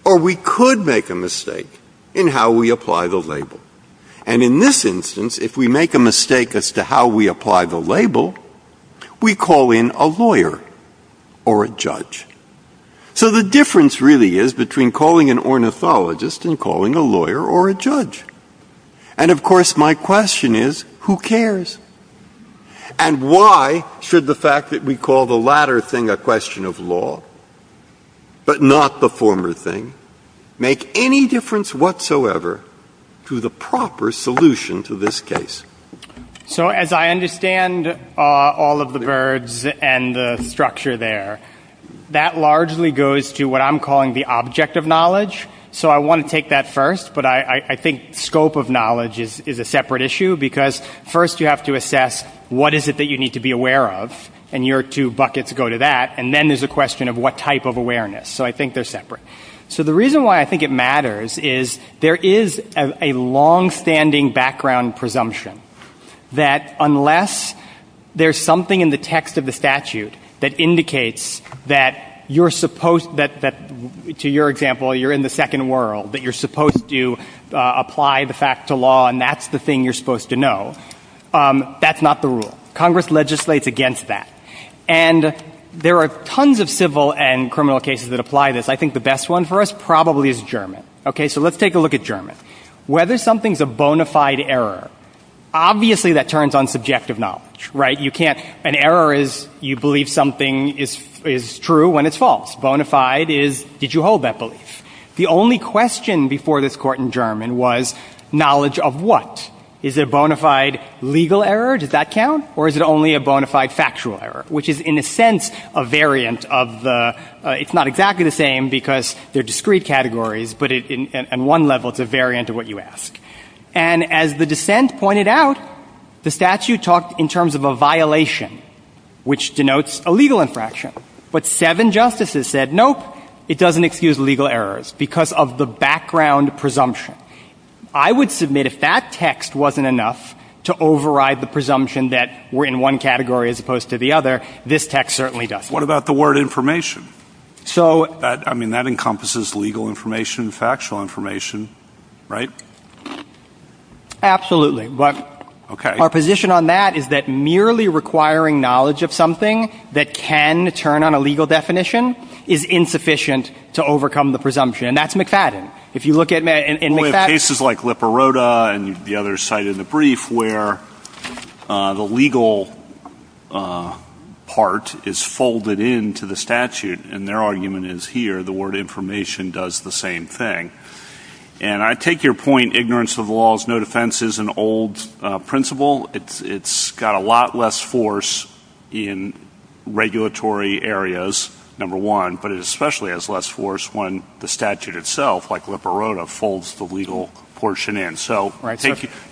or we could make a mistake in how we apply the label. And in this instance, if we make a mistake as to how we apply the label, we call in a lawyer or a judge. So the difference really is between calling an ornithologist and calling a lawyer or a judge. And of course, my question is, who cares? And why should the fact that we call the latter thing a question of law, but not the former thing, make any difference whatsoever to the proper solution to this case? So as I understand all of the birds and the structure there, that largely goes to what I'm calling the object of knowledge. So I want to take that first, but I think scope of knowledge is a separate issue because first you have to assess what is it that you need to be aware of, and your two buckets go to that, and then there's a question of what type of awareness. So I think they're separate. So the reason why I think it matters is there is a long-standing background presumption that unless there's something in the text of the statute that indicates that you're supposed, to your example, you're in the second world, that you're supposed to apply the fact to law and that's the thing you're supposed to know, that's not the rule. Congress legislates against that. And there are tons of civil and criminal cases that apply this. I think the best one for us probably is German. Okay, so let's take a look at German. Whether something's a bona fide error, obviously that turns on subjective knowledge, right? You can't, an error is you believe something is true when it's false. Bona fide is did you hold that belief? The only question before this court in German was knowledge of what? Is it bona fide legal error, does that count? Or is it only a bona fide factual error, which is in a sense a variant of the, it's not exactly the same because they're discrete categories, but on one level it's a variant of what you ask. And as the dissent pointed out, the statute talks in terms of a violation, which denotes a legal infraction. But seven justices said nope, it doesn't excuse legal errors because of the background presumption. I would submit if that text wasn't enough to override the presumption that we're in one category as opposed to the other, this text certainly doesn't. What about the word information? So, I mean, that encompasses legal information, factual information, right? Absolutely. But our position on that is that merely requiring knowledge of something that can turn on a legal definition is insufficient to overcome the presumption. And that's McFadden. If you look at McFadden... We have cases like Liparota and the other side in the brief where the legal part is folded into the statute, and their argument is here, the word information does the same thing. And I take your point, ignorance of the law is no defense, is an old principle. It's got a lot less force in regulatory areas, number one, but it especially has less force when the statute itself, like Liparota, folds the legal portion in. So,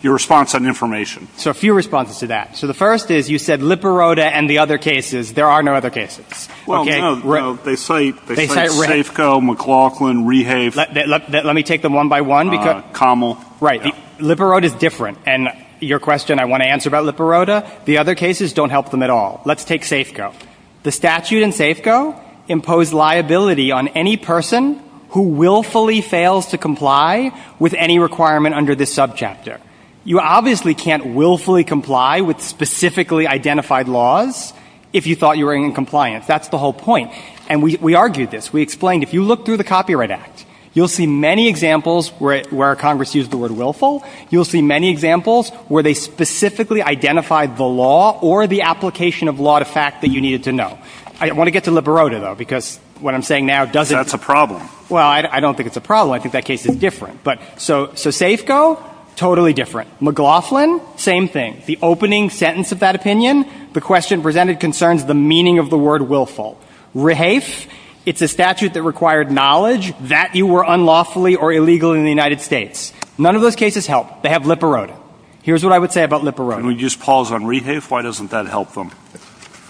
your response on information. So, a few responses to that. So, the first is you said Liparota and the other cases. There are no other cases. Well, no. They cite Safeco, McLaughlin, Rehave. Let me take them one by one. Right. Liparota's different. And your question I want to answer about Liparota, the other cases don't help them at all. Let's take Safeco. The statute in Safeco imposed liability on any person who willfully fails to comply with any requirement under this subchapter. You obviously can't willfully comply with specifically identified laws if you thought you were in compliance. That's the whole point. And we argued this. We explained, if you look through the Copyright Act, you'll see many examples where Congress used the word willful. You'll see many examples where they specifically identified the law or the application of law to fact that you needed to know. I want to get to Liparota, though, because what I'm saying now doesn't... That's a problem. Well, I don't think it's a problem. I think that case is different. But so Safeco? Totally different. McLaughlin? Same thing. The opening sentence of that opinion, the question presented concerns the meaning of the word willful. Rehafe? It's a statute that required knowledge that you were unlawfully or illegal in the United States. None of those cases help. They have Liparota. Here's what I would say about Liparota. Can we just pause on Rehafe? Why doesn't that help them?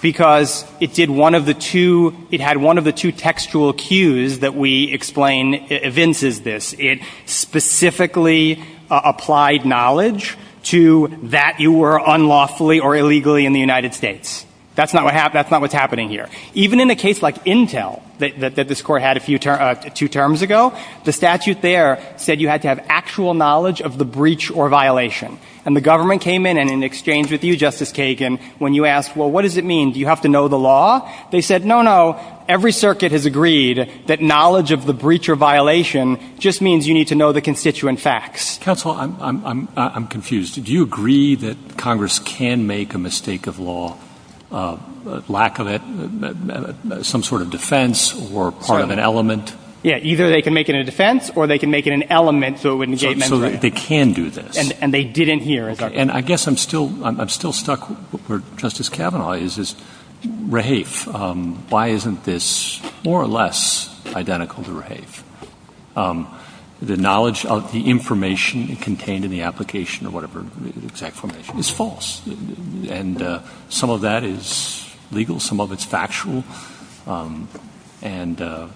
Because it did one of the two... It had one of the two textual cues that we explain evinces this. It specifically applied knowledge to that you were unlawfully or illegally in the United States. That's not what's happening here. Even in a case like Intel that this Court had two terms ago, the statute there said you had to have actual knowledge of the breach or violation. And the government came in and in exchange with you, Justice Kagan, when you asked, well, what does it mean? Do you have to know the law? They said, no, no. Every circuit has agreed that knowledge of the breach or violation just means you need to know the constituent facts. Counsel, I'm confused. Do you agree that Congress can make a mistake of law, lack of it, some sort of defense or part of an element? Yeah, either they can make it a defense or they can make it an element so it wouldn't get... So they can do this. And they didn't hear about that. And I guess I'm still stuck where Justice Kavanaugh is. Raheif, why isn't this more or less identical to Raheif? The knowledge of the information contained in the application or whatever exact information is false. And some of that is legal. Some of it's factual. And, you know,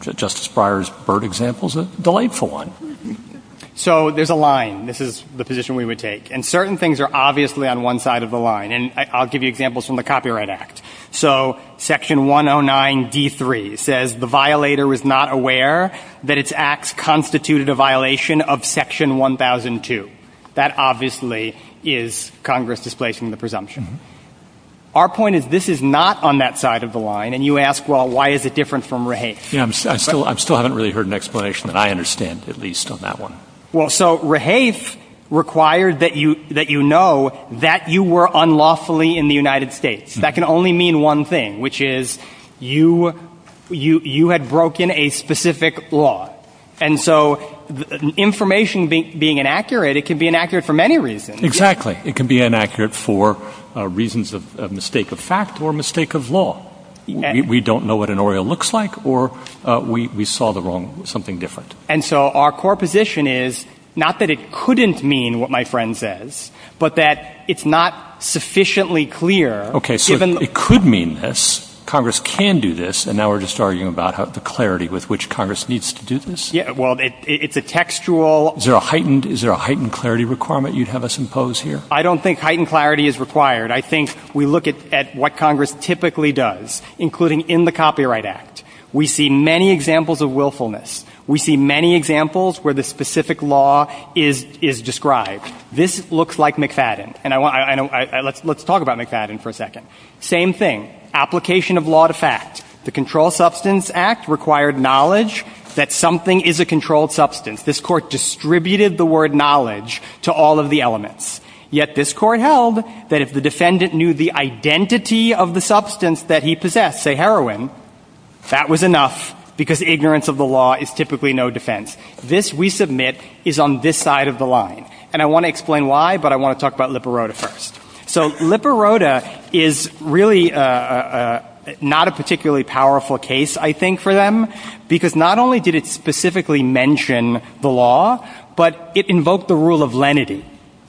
Justice Breyer's bird example is a delightful one. So there's a line. This is the position we would take. And certain things are obviously on one side of the line. And I'll give you examples from the Copyright Act. So Section 109 v. 3 says the violator was not aware that its acts constituted a violation of Section 1002. That obviously is Congress displacing the presumption. Our point is this is not on that side of the line. And you ask, well, why is it different from Raheif? I still haven't really heard an explanation that I understand, at least on that one. Well, so Raheif required that you know that you were unlawfully in the United States. That can only mean one thing, which is you had broken a specific law. And so information being inaccurate, it can be inaccurate for many reasons. Exactly. It can be inaccurate for reasons of mistake of fact or mistake of law. We don't know what an oral looks like or we saw something different. And so our core position is not that it couldn't mean what my friend says, but that it's not sufficiently clear. Okay, so it could mean this. Congress can do this. And now we're just arguing about the clarity with which Congress needs to do this. Yeah, well, it's a textual... Is there a heightened clarity requirement you'd have us impose here? I don't think heightened clarity is required. I think we look at what Congress typically does, including in the Copyright Act. We see many examples of willfulness. We see many examples where the specific law is described. This looks like McFadden. And I want... Let's talk about McFadden for a second. Same thing. Application of law to fact. The Controlled Substance Act required knowledge that something is a controlled substance. This court distributed the word knowledge to all of the elements. Yet this court held that if the defendant knew the identity of the substance that he possessed, say heroin, that was enough because ignorance of the law is typically no defense. This, we submit, is on this side of the line. And I want to explain why, but I want to talk about Liparota first. So Liparota is really not a particularly powerful case, I think, for them because not only did it specifically mention the law, but it invoked the rule of lenity.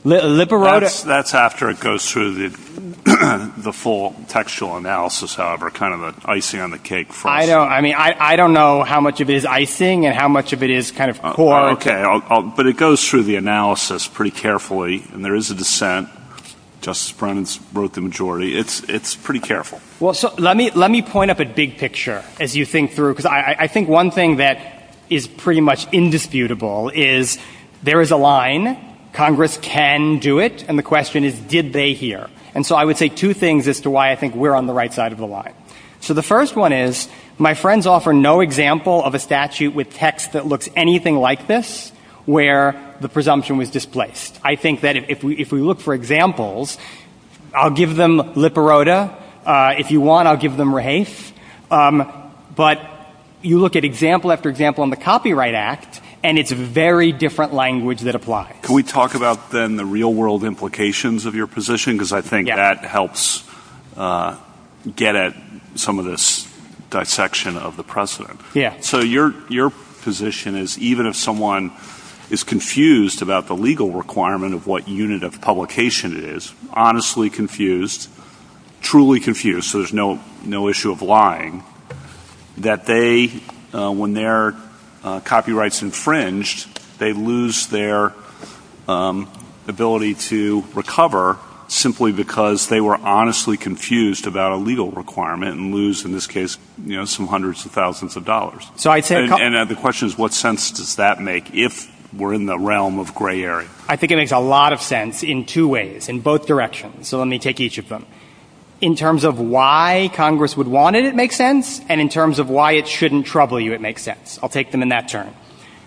Liparota... That's after it goes through the full textual analysis, however, kind of the icing on the cake for us. I don't know how much of it is icing and how much of it is kind of core... Okay. But it goes through the analysis pretty carefully and there is a dissent. Justice Brennan wrote the majority. It's pretty careful. Let me point up a big picture as you think through because I think one thing that is pretty much indisputable is there is a line. Congress can do it. And the question is, did they hear? And so I would say two things as to why I think we're on the right side of the line. So the first one is my friends offer no example of a statute with text that looks anything like this where the presumption was displaced. I think that if we look for examples, I'll give them Lipperota. If you want, I'll give them Rahace. But you look at example after example on the Copyright Act and it's a very different language that applies. Can we talk about then the real world implications of your position because I think that helps get at some of this dissection of the precedent. Yeah. So your position is even if someone is confused about the legal requirement of what unit of publication it is, honestly confused, truly confused, so there's no issue of lying, that they, when their copyright's infringed, they lose their ability to recover simply because they were honestly confused about a legal requirement and lose, in this case, you know, some hundreds of thousands of dollars. And the question is what sense does that make if we're in the realm of gray area? I think it makes a lot of sense in two ways, in both directions. So let me take each of them. In terms of why Congress would want it, it makes sense. And in terms of why it shouldn't trouble you, it makes sense. I'll take them in that turn.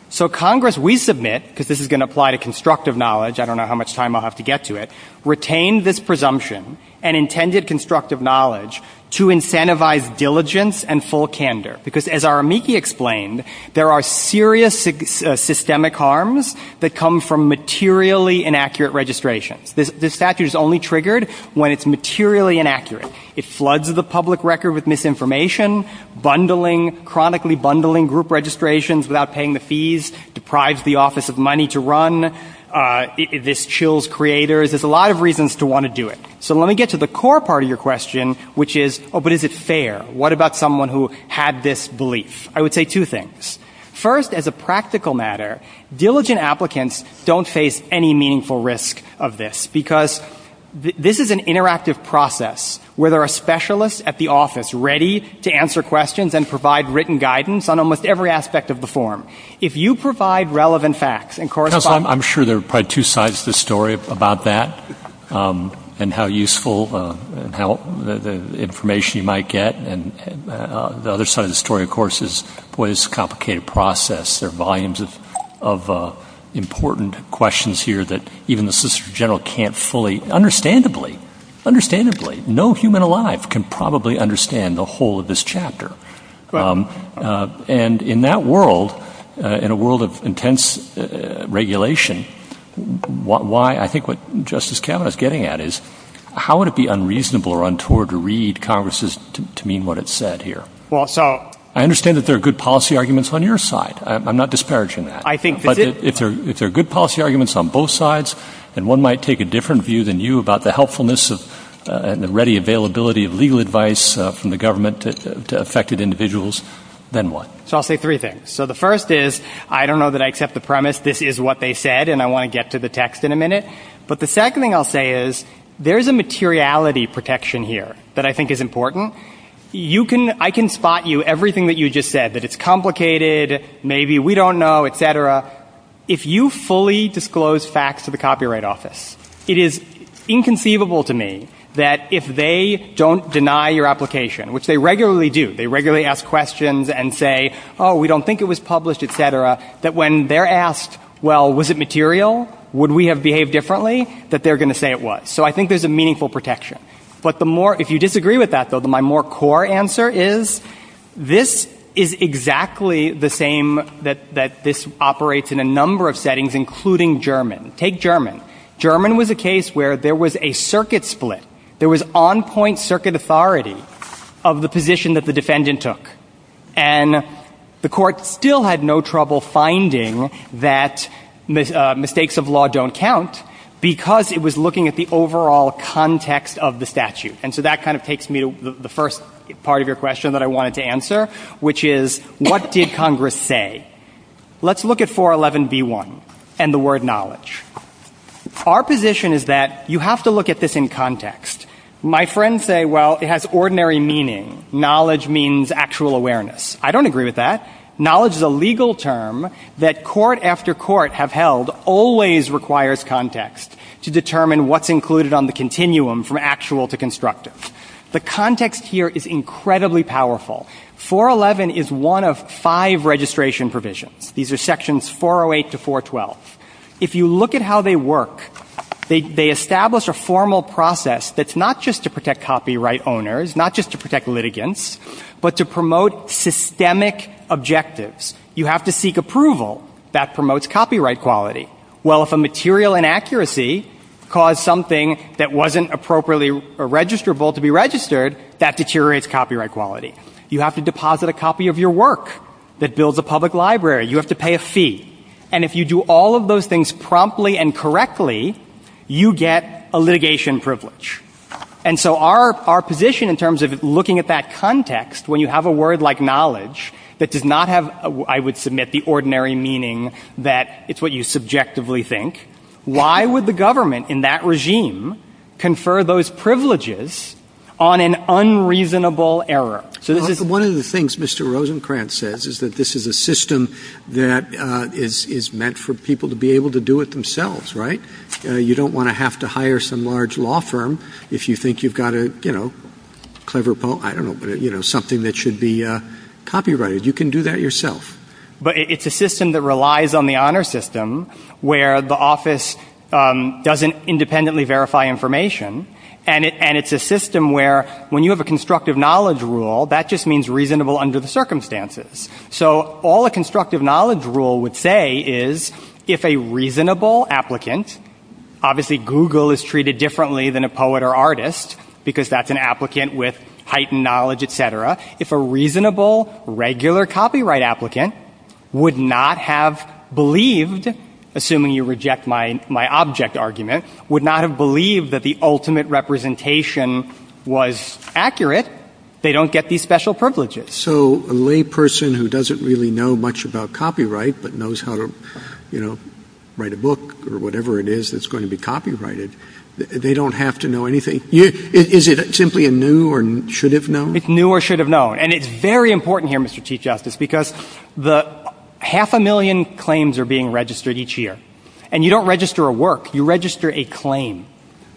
So Congress, we submit, because this is going to apply to constructive knowledge, I don't know how much time I'll have to get to it, retains its presumption and intended constructive knowledge to incentivize diligence and full candor because as Aramiki explained, there are serious systemic harms that come from materially inaccurate registration. This statute is only triggered when it's materially inaccurate. It floods the public record with misinformation, bundling, chronically bundling group registrations without paying the fees, deprives the office of money to run, this chills creators. There's a lot of reasons to want to do it. So let me get to the core part of your question, which is, oh, but is it fair? What about someone who had this belief? I would say two things. First, as a practical matter, diligent applicants don't face any meaningful risk of this because this is an interactive process where there are specialists at the office ready to answer questions and provide written guidance on almost every aspect of the form. If you provide relevant facts and correspond... I'm sure there are probably two sides to the story about that and how useful and how information you might get and the other side of the story, of course, is what is a complicated process. There are volumes of important questions here that even the Solicitor General can't fully... Understandably, understandably, no human alive can probably understand the whole of this chapter. And in that world, in a world of intense regulation, why I think what Justice Kavanaugh is getting at is, how would it be unreasonable or untoward to read Congress's statement to mean what it said here? I understand that there are good policy arguments on your side. I'm not disparaging that. But if there are good policy arguments on both sides and one might take a different view than you about the helpfulness and the ready availability of legal advice from the government to affected individuals, then what? So I'll say three things. So the first is, I don't know that I accept the premise this is what they said and I want to get to the text in a minute. But the second thing I'll say is, there's a materiality protection here that I think is important. You can, I can spot you everything that you just said, that it's complicated, maybe we don't know, et cetera. If you fully disclose facts to the Copyright Office, it is inconceivable to me that if they don't deny your application, which they regularly do, they regularly ask questions and say, oh, we don't think it was published, et cetera, that when they're asked, well, was it material? Would we have behaved differently? That they're going to say it was. So I think there's a meaningful protection. But the more, if you disagree with that, my more core answer is, this is exactly the same that this operates in a number of settings, including German. Take German. German was a case where there was a circuit split. There was on-point circuit authority of the position that the defendant took. And the court still had no trouble finding that mistakes of law don't count because it was looking at the overall context of the statute. And so that kind of takes me to the first part of your question that I wanted to answer, which is, what did Congress say? Let's look at 411b1 and the word knowledge. Our position is that you have to look at this in context. My friends say, well, it has ordinary meaning. Knowledge means actual awareness. I don't agree with that. Knowledge is a legal term that court after court have held always requires context to determine what's included on the continuum from actual to constructive. The context here is incredibly powerful. 411 is one of five registration provisions. These are sections 408 to 412. If you look at how they work, they establish a formal process that's not just to protect copyright owners, not just to protect litigants, but to promote systemic objectives. You have to seek approval. That promotes copyright quality. Well, if a material inaccuracy caused something that wasn't appropriately or registrable to be registered, that deteriorates copyright quality. You have to deposit a copy of your work that builds a public library. You have to pay a fee. And if you do all of those things promptly and correctly, you get a litigation privilege. And so our position in terms of looking at that context, when you have a word like knowledge that does not have, I would submit, the ordinary meaning that it's what you subjectively think, why would the government in that regime confer those privileges on an unreasonable error? One of the things Mr. Rosenkranz says is that this is a system that is meant for people to be able to do it themselves, right? You don't want to have to hire some large law firm if you think you've got a, you know, clever, I don't know, something that should be copyrighted. You can do that yourself. But it's a system that relies on the honor system where the office doesn't independently verify information, and it's a system where when you have a constructive knowledge rule, that just means reasonable under the circumstances. So all a constructive knowledge rule would say is if a reasonable applicant, obviously Google is treated differently than a poet or artist because that's an applicant with heightened knowledge, et cetera, if a reasonable, regular copyright applicant would not have believed assuming you reject my object argument, would not have believed that the ultimate representation was accurate, they don't get these special privileges. So a layperson who doesn't really know much about copyright but knows how to, you know, write a book or whatever it is that's going to be copyrighted, they don't have to know anything? Is it simply a new or should have known? It's new or should have known. And it's very important here, Mr. Chief Justice, because the half a million claims are being registered each year. And you don't register a work, you register a claim.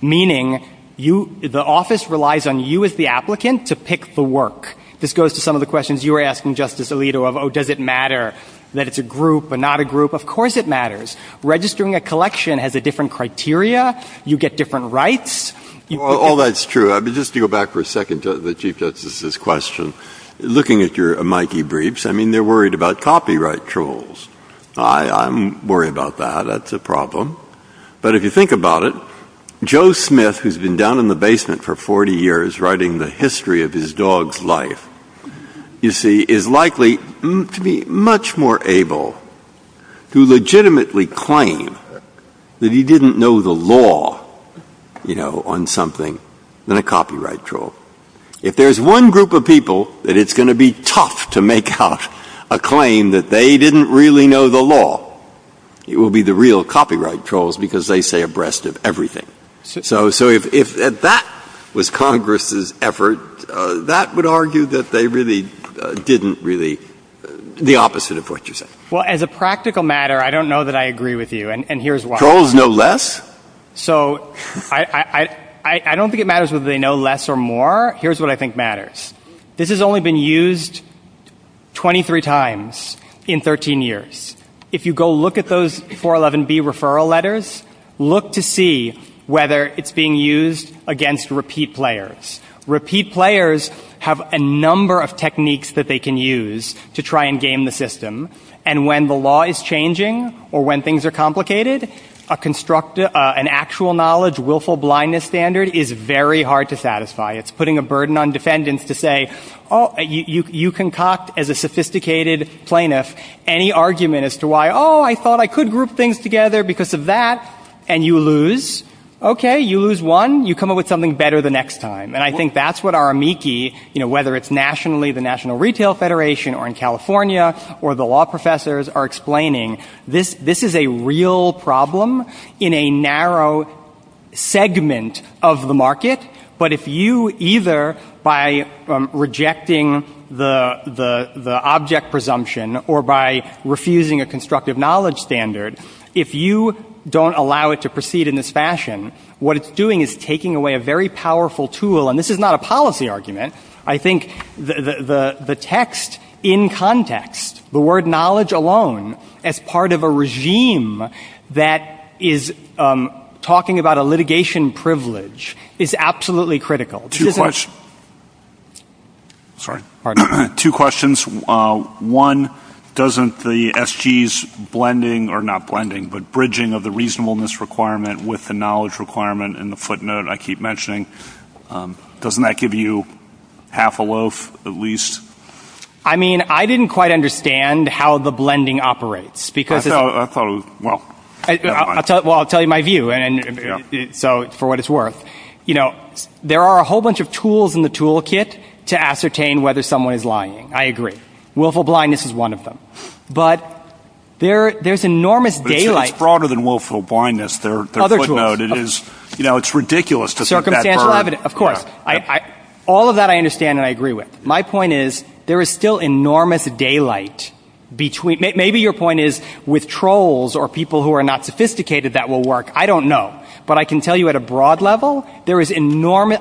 Meaning, the office relies on you as the applicant to pick the work. This goes to some of the questions you were asking, Justice Alito, of does it matter that it's a group or not a group? Of course it matters. Registering a collection has a different criteria, you get different rights. All that's true. Just to go back for a second to the Chief Justice's question, looking at your Mikey briefs, I mean they're worried about copyright trolls. I'm worried about that. That's a problem. But if you think about it, Joe Smith, who's been down in the basement for 40 years writing the history of his dog's life, you see, is likely to be much more able to legitimately claim that he didn't know the law, you know, on something than a copyright troll. If there's one group of people that it's going to be tough to make out a claim that they didn't really know the law, it will be the real copyright trolls because they say a breast of everything. So if that was Congress's effort, that would argue that they really didn't really, the opposite of what you said. Well, as a practical matter, I don't know that I agree with you and here's why. Trolls know less? So I don't think it matters whether they know less or more. Here's what I think matters. This has only been used 23 times in 13 years. If you go look at those 411B referral letters, look to see whether it's being used against repeat players. Repeat players have a number of techniques that they can use to try and game the system and when the law is changing or when things are complicated, a constructed, an actual knowledge willful blindness standard is very hard to satisfy. It's putting a burden on defendants to say, oh, you concoct as a sophisticated plaintiff any argument as to why, oh, I thought I could group things together because of that and you lose. Okay, you lose one, you come up with something better the next time and I think that's what our amici, whether it's nationally, the National Retail Federation or in California or the law professors are explaining. This is a real problem in a narrow segment of the market but if you either, by rejecting the object presumption or by refusing a constructive knowledge standard, if you don't allow it to proceed in this fashion, what it's doing is taking away a very powerful tool and this is not a policy argument. I think the text in context, the word knowledge alone, as part of a regime that is talking about a litigation privilege is absolutely critical. Two questions. Sorry. Two questions. One, doesn't the SG's blending, or not blending but bridging of the reasonableness requirement with the knowledge requirement and the footnote I keep mentioning, doesn't that give you half a loaf at least? I mean, I didn't quite understand how the blending operates because... Well, I'll tell you my view for what it's worth. You know, there are a whole bunch of tools in the toolkit to ascertain whether someone is lying. I agree. Willful blindness is one of them. But, there's enormous daylight... It's broader than willful blindness. Other tools. You know, it's ridiculous to think that... Circumstantial evidence, of course. All of that I understand and I agree with. My point is, there is still enormous daylight between... Maybe your point is with trolls or people who are not sophisticated that will work. I don't know. But I can tell you at a broad level, there is enormous...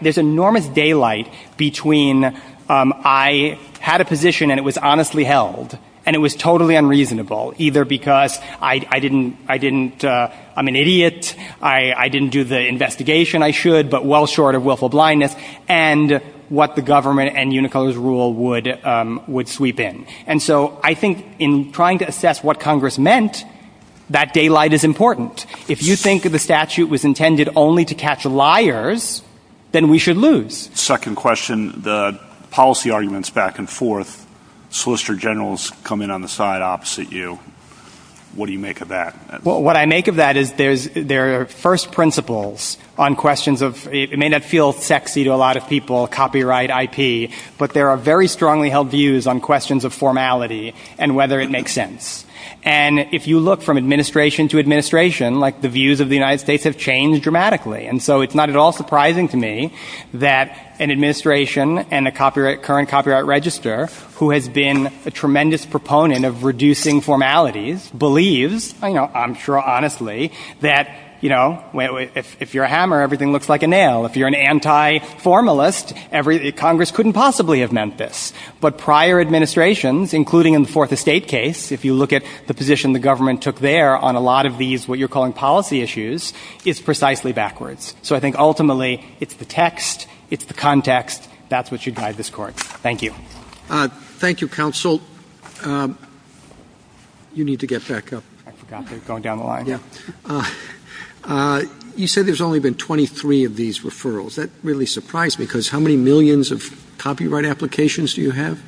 There's enormous daylight between I had a position and it was honestly held and it was totally unreasonable. Either because I didn't... I didn't... I'm an idiot. I didn't do the investigation I should but well short of willful blindness and what the government and Unicode's rule would sweep in. And so, I think in trying to assess what Congress meant, that daylight is important. If you think that the statute was intended only to catch liars, then we should lose. Second question. The policy arguments back and forth. Solicitor General is coming on the side opposite you. What do you make of that? What I make of that is there are first principles on questions of... It may not feel sexy to a lot of people, copyright, IP, but there are very strongly held views on questions of formality and whether it makes sense. And if you look from administration to administration, the views of the United States have changed dramatically. And so, it's not at all surprising to me that an administration and a current copyright register who has been a tremendous proponent of reducing formalities believes, I'm sure honestly, that if you're a hammer, everything looks like a nail. If you're an anti-formalist, Congress couldn't possibly have meant this. But prior administrations, including in the Fourth Estate case, if you look at the position the government took there on a lot of these, what you're calling policy issues, it's precisely backwards. So, I think ultimately, it's the text, it's the context, that's what should guide this court. Thank you. Thank you, counsel. You need to get back up. I forgot that you're going down the line. Yeah. You said there's only been 23 of these referrals. That really surprised me because how many millions of copyright applications do you have?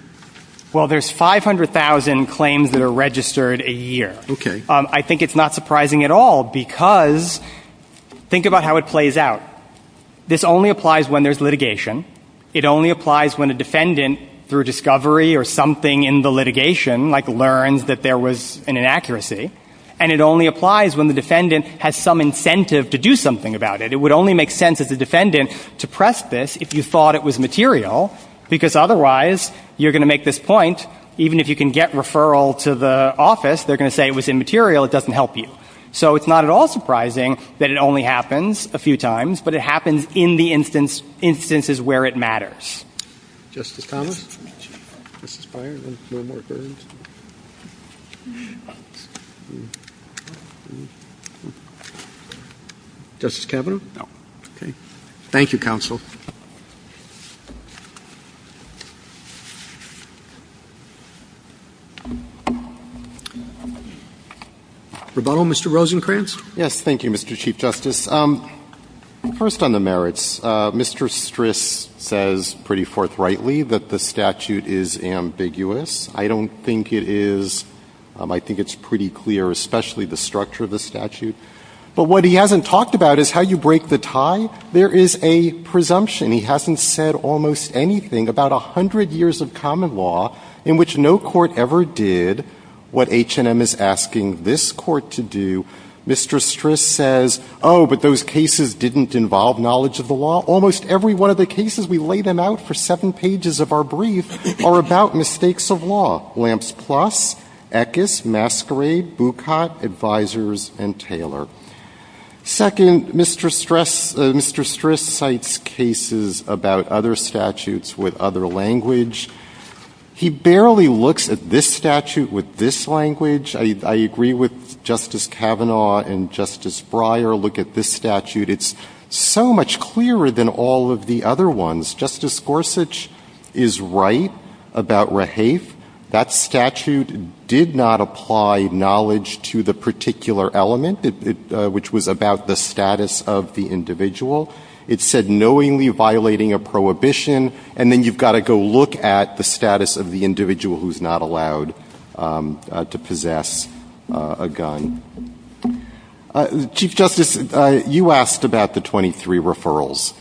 Well, there's 500,000 claims that are registered a year. Okay. I think it's not surprising at all because think about how it plays out. This only applies when there's litigation. It only applies when the defendant, through discovery or something in the litigation, like learns that there was an inaccuracy. And it only applies when the defendant has some incentive to do something about it. It would only make sense if the defendant suppressed this if you thought it was material because otherwise, you're going to make this point even if you can get referral to the office, they're going to say it was immaterial, it doesn't help you. So, it's not at all surprising that it only happens a few times, but it happens in the instances where it matters. Justice Thomas? Justice Breyer? No more questions? Justice Kavanaugh? No. Okay. Thank you, counsel. Rebuttal? Mr. Rosenkranz? Yes, thank you, Mr. Chief Justice. First on the merits, Mr. Stris says pretty forthrightly that the statute is ambiguous. I don't think it is. I think it's pretty clear, especially the structure of the statute. But what he hasn't talked about is how you break the tie. There is a presumption. He hasn't said almost anything about a hundred years of common law in which no court ever did what H&M is asking this court to do. Mr. Stris says, oh, but those cases didn't involve knowledge of the law? Almost every one of the cases we lay them out for seven pages of our brief are about mistakes of law. Lamps Plus, ECUS, Masquerade, Bucott, Advisors, and Taylor. Second, Mr. Stris cites cases about other statutes with other language. He barely looks at this statute with this language. I agree with Justice Kavanaugh and Justice Breyer. Look at this statute. It's so much clearer than all of the other ones. Justice Gorsuch is right about Rehaith. That statute did not apply knowledge to the particular element, which was about the status of the individual. It said, knowingly violating a prohibition, and then you've got to go look at the status of the individual who's not allowed to possess a gun. Chief Justice, you asked about the 23 referrals.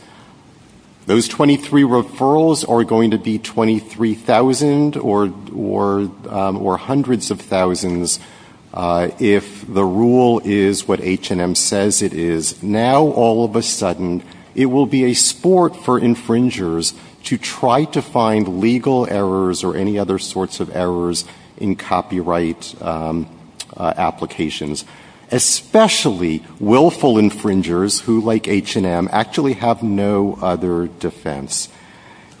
Those 23 referrals are going to be 23,000 or hundreds of thousands if the rule is what H&M says it is. Now, all of a sudden, it will be a sport for infringers to try to find legal errors or any other sorts of errors in copyright applications, especially willful infringers who, like H&M, actually have no other defense.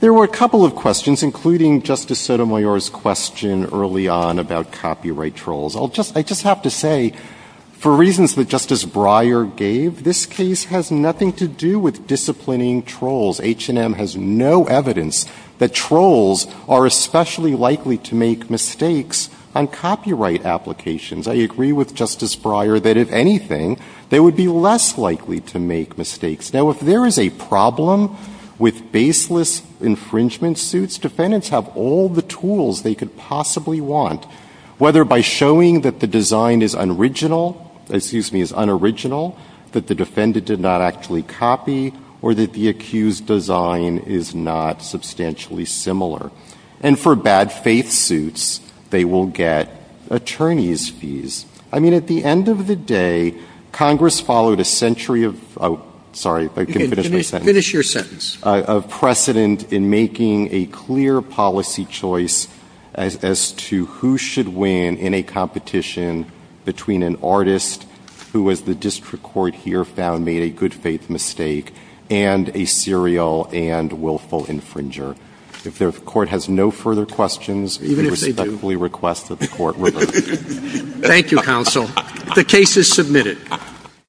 There were a couple of questions, including Justice Sotomayor's question early on about copyright trolls. I just have to say, for reasons that Justice Breyer gave, this case has nothing to do with disciplining trolls. H&M has no evidence that trolls are especially likely to make mistakes on copyright applications. I agree with Justice Breyer that, if anything, they would be less likely to make mistakes. Now, if there is a problem with baseless infringement suits, defendants have all the tools they could possibly want, whether by showing that the design is unoriginal, that the defendant did not actually copy, or that the accused design is not substantially similar. And for bad faith suits, they will get attorney's fees. I mean, at the end of the day, Congress followed a century of precedent in making a clear policy choice as to who should win in a competition between an artist, who, as the district court here found, made a good faith mistake, and a serial and willful infringer. If the court has no further questions, respectfully request that the court revert. Thank you, counsel. The case is submitted.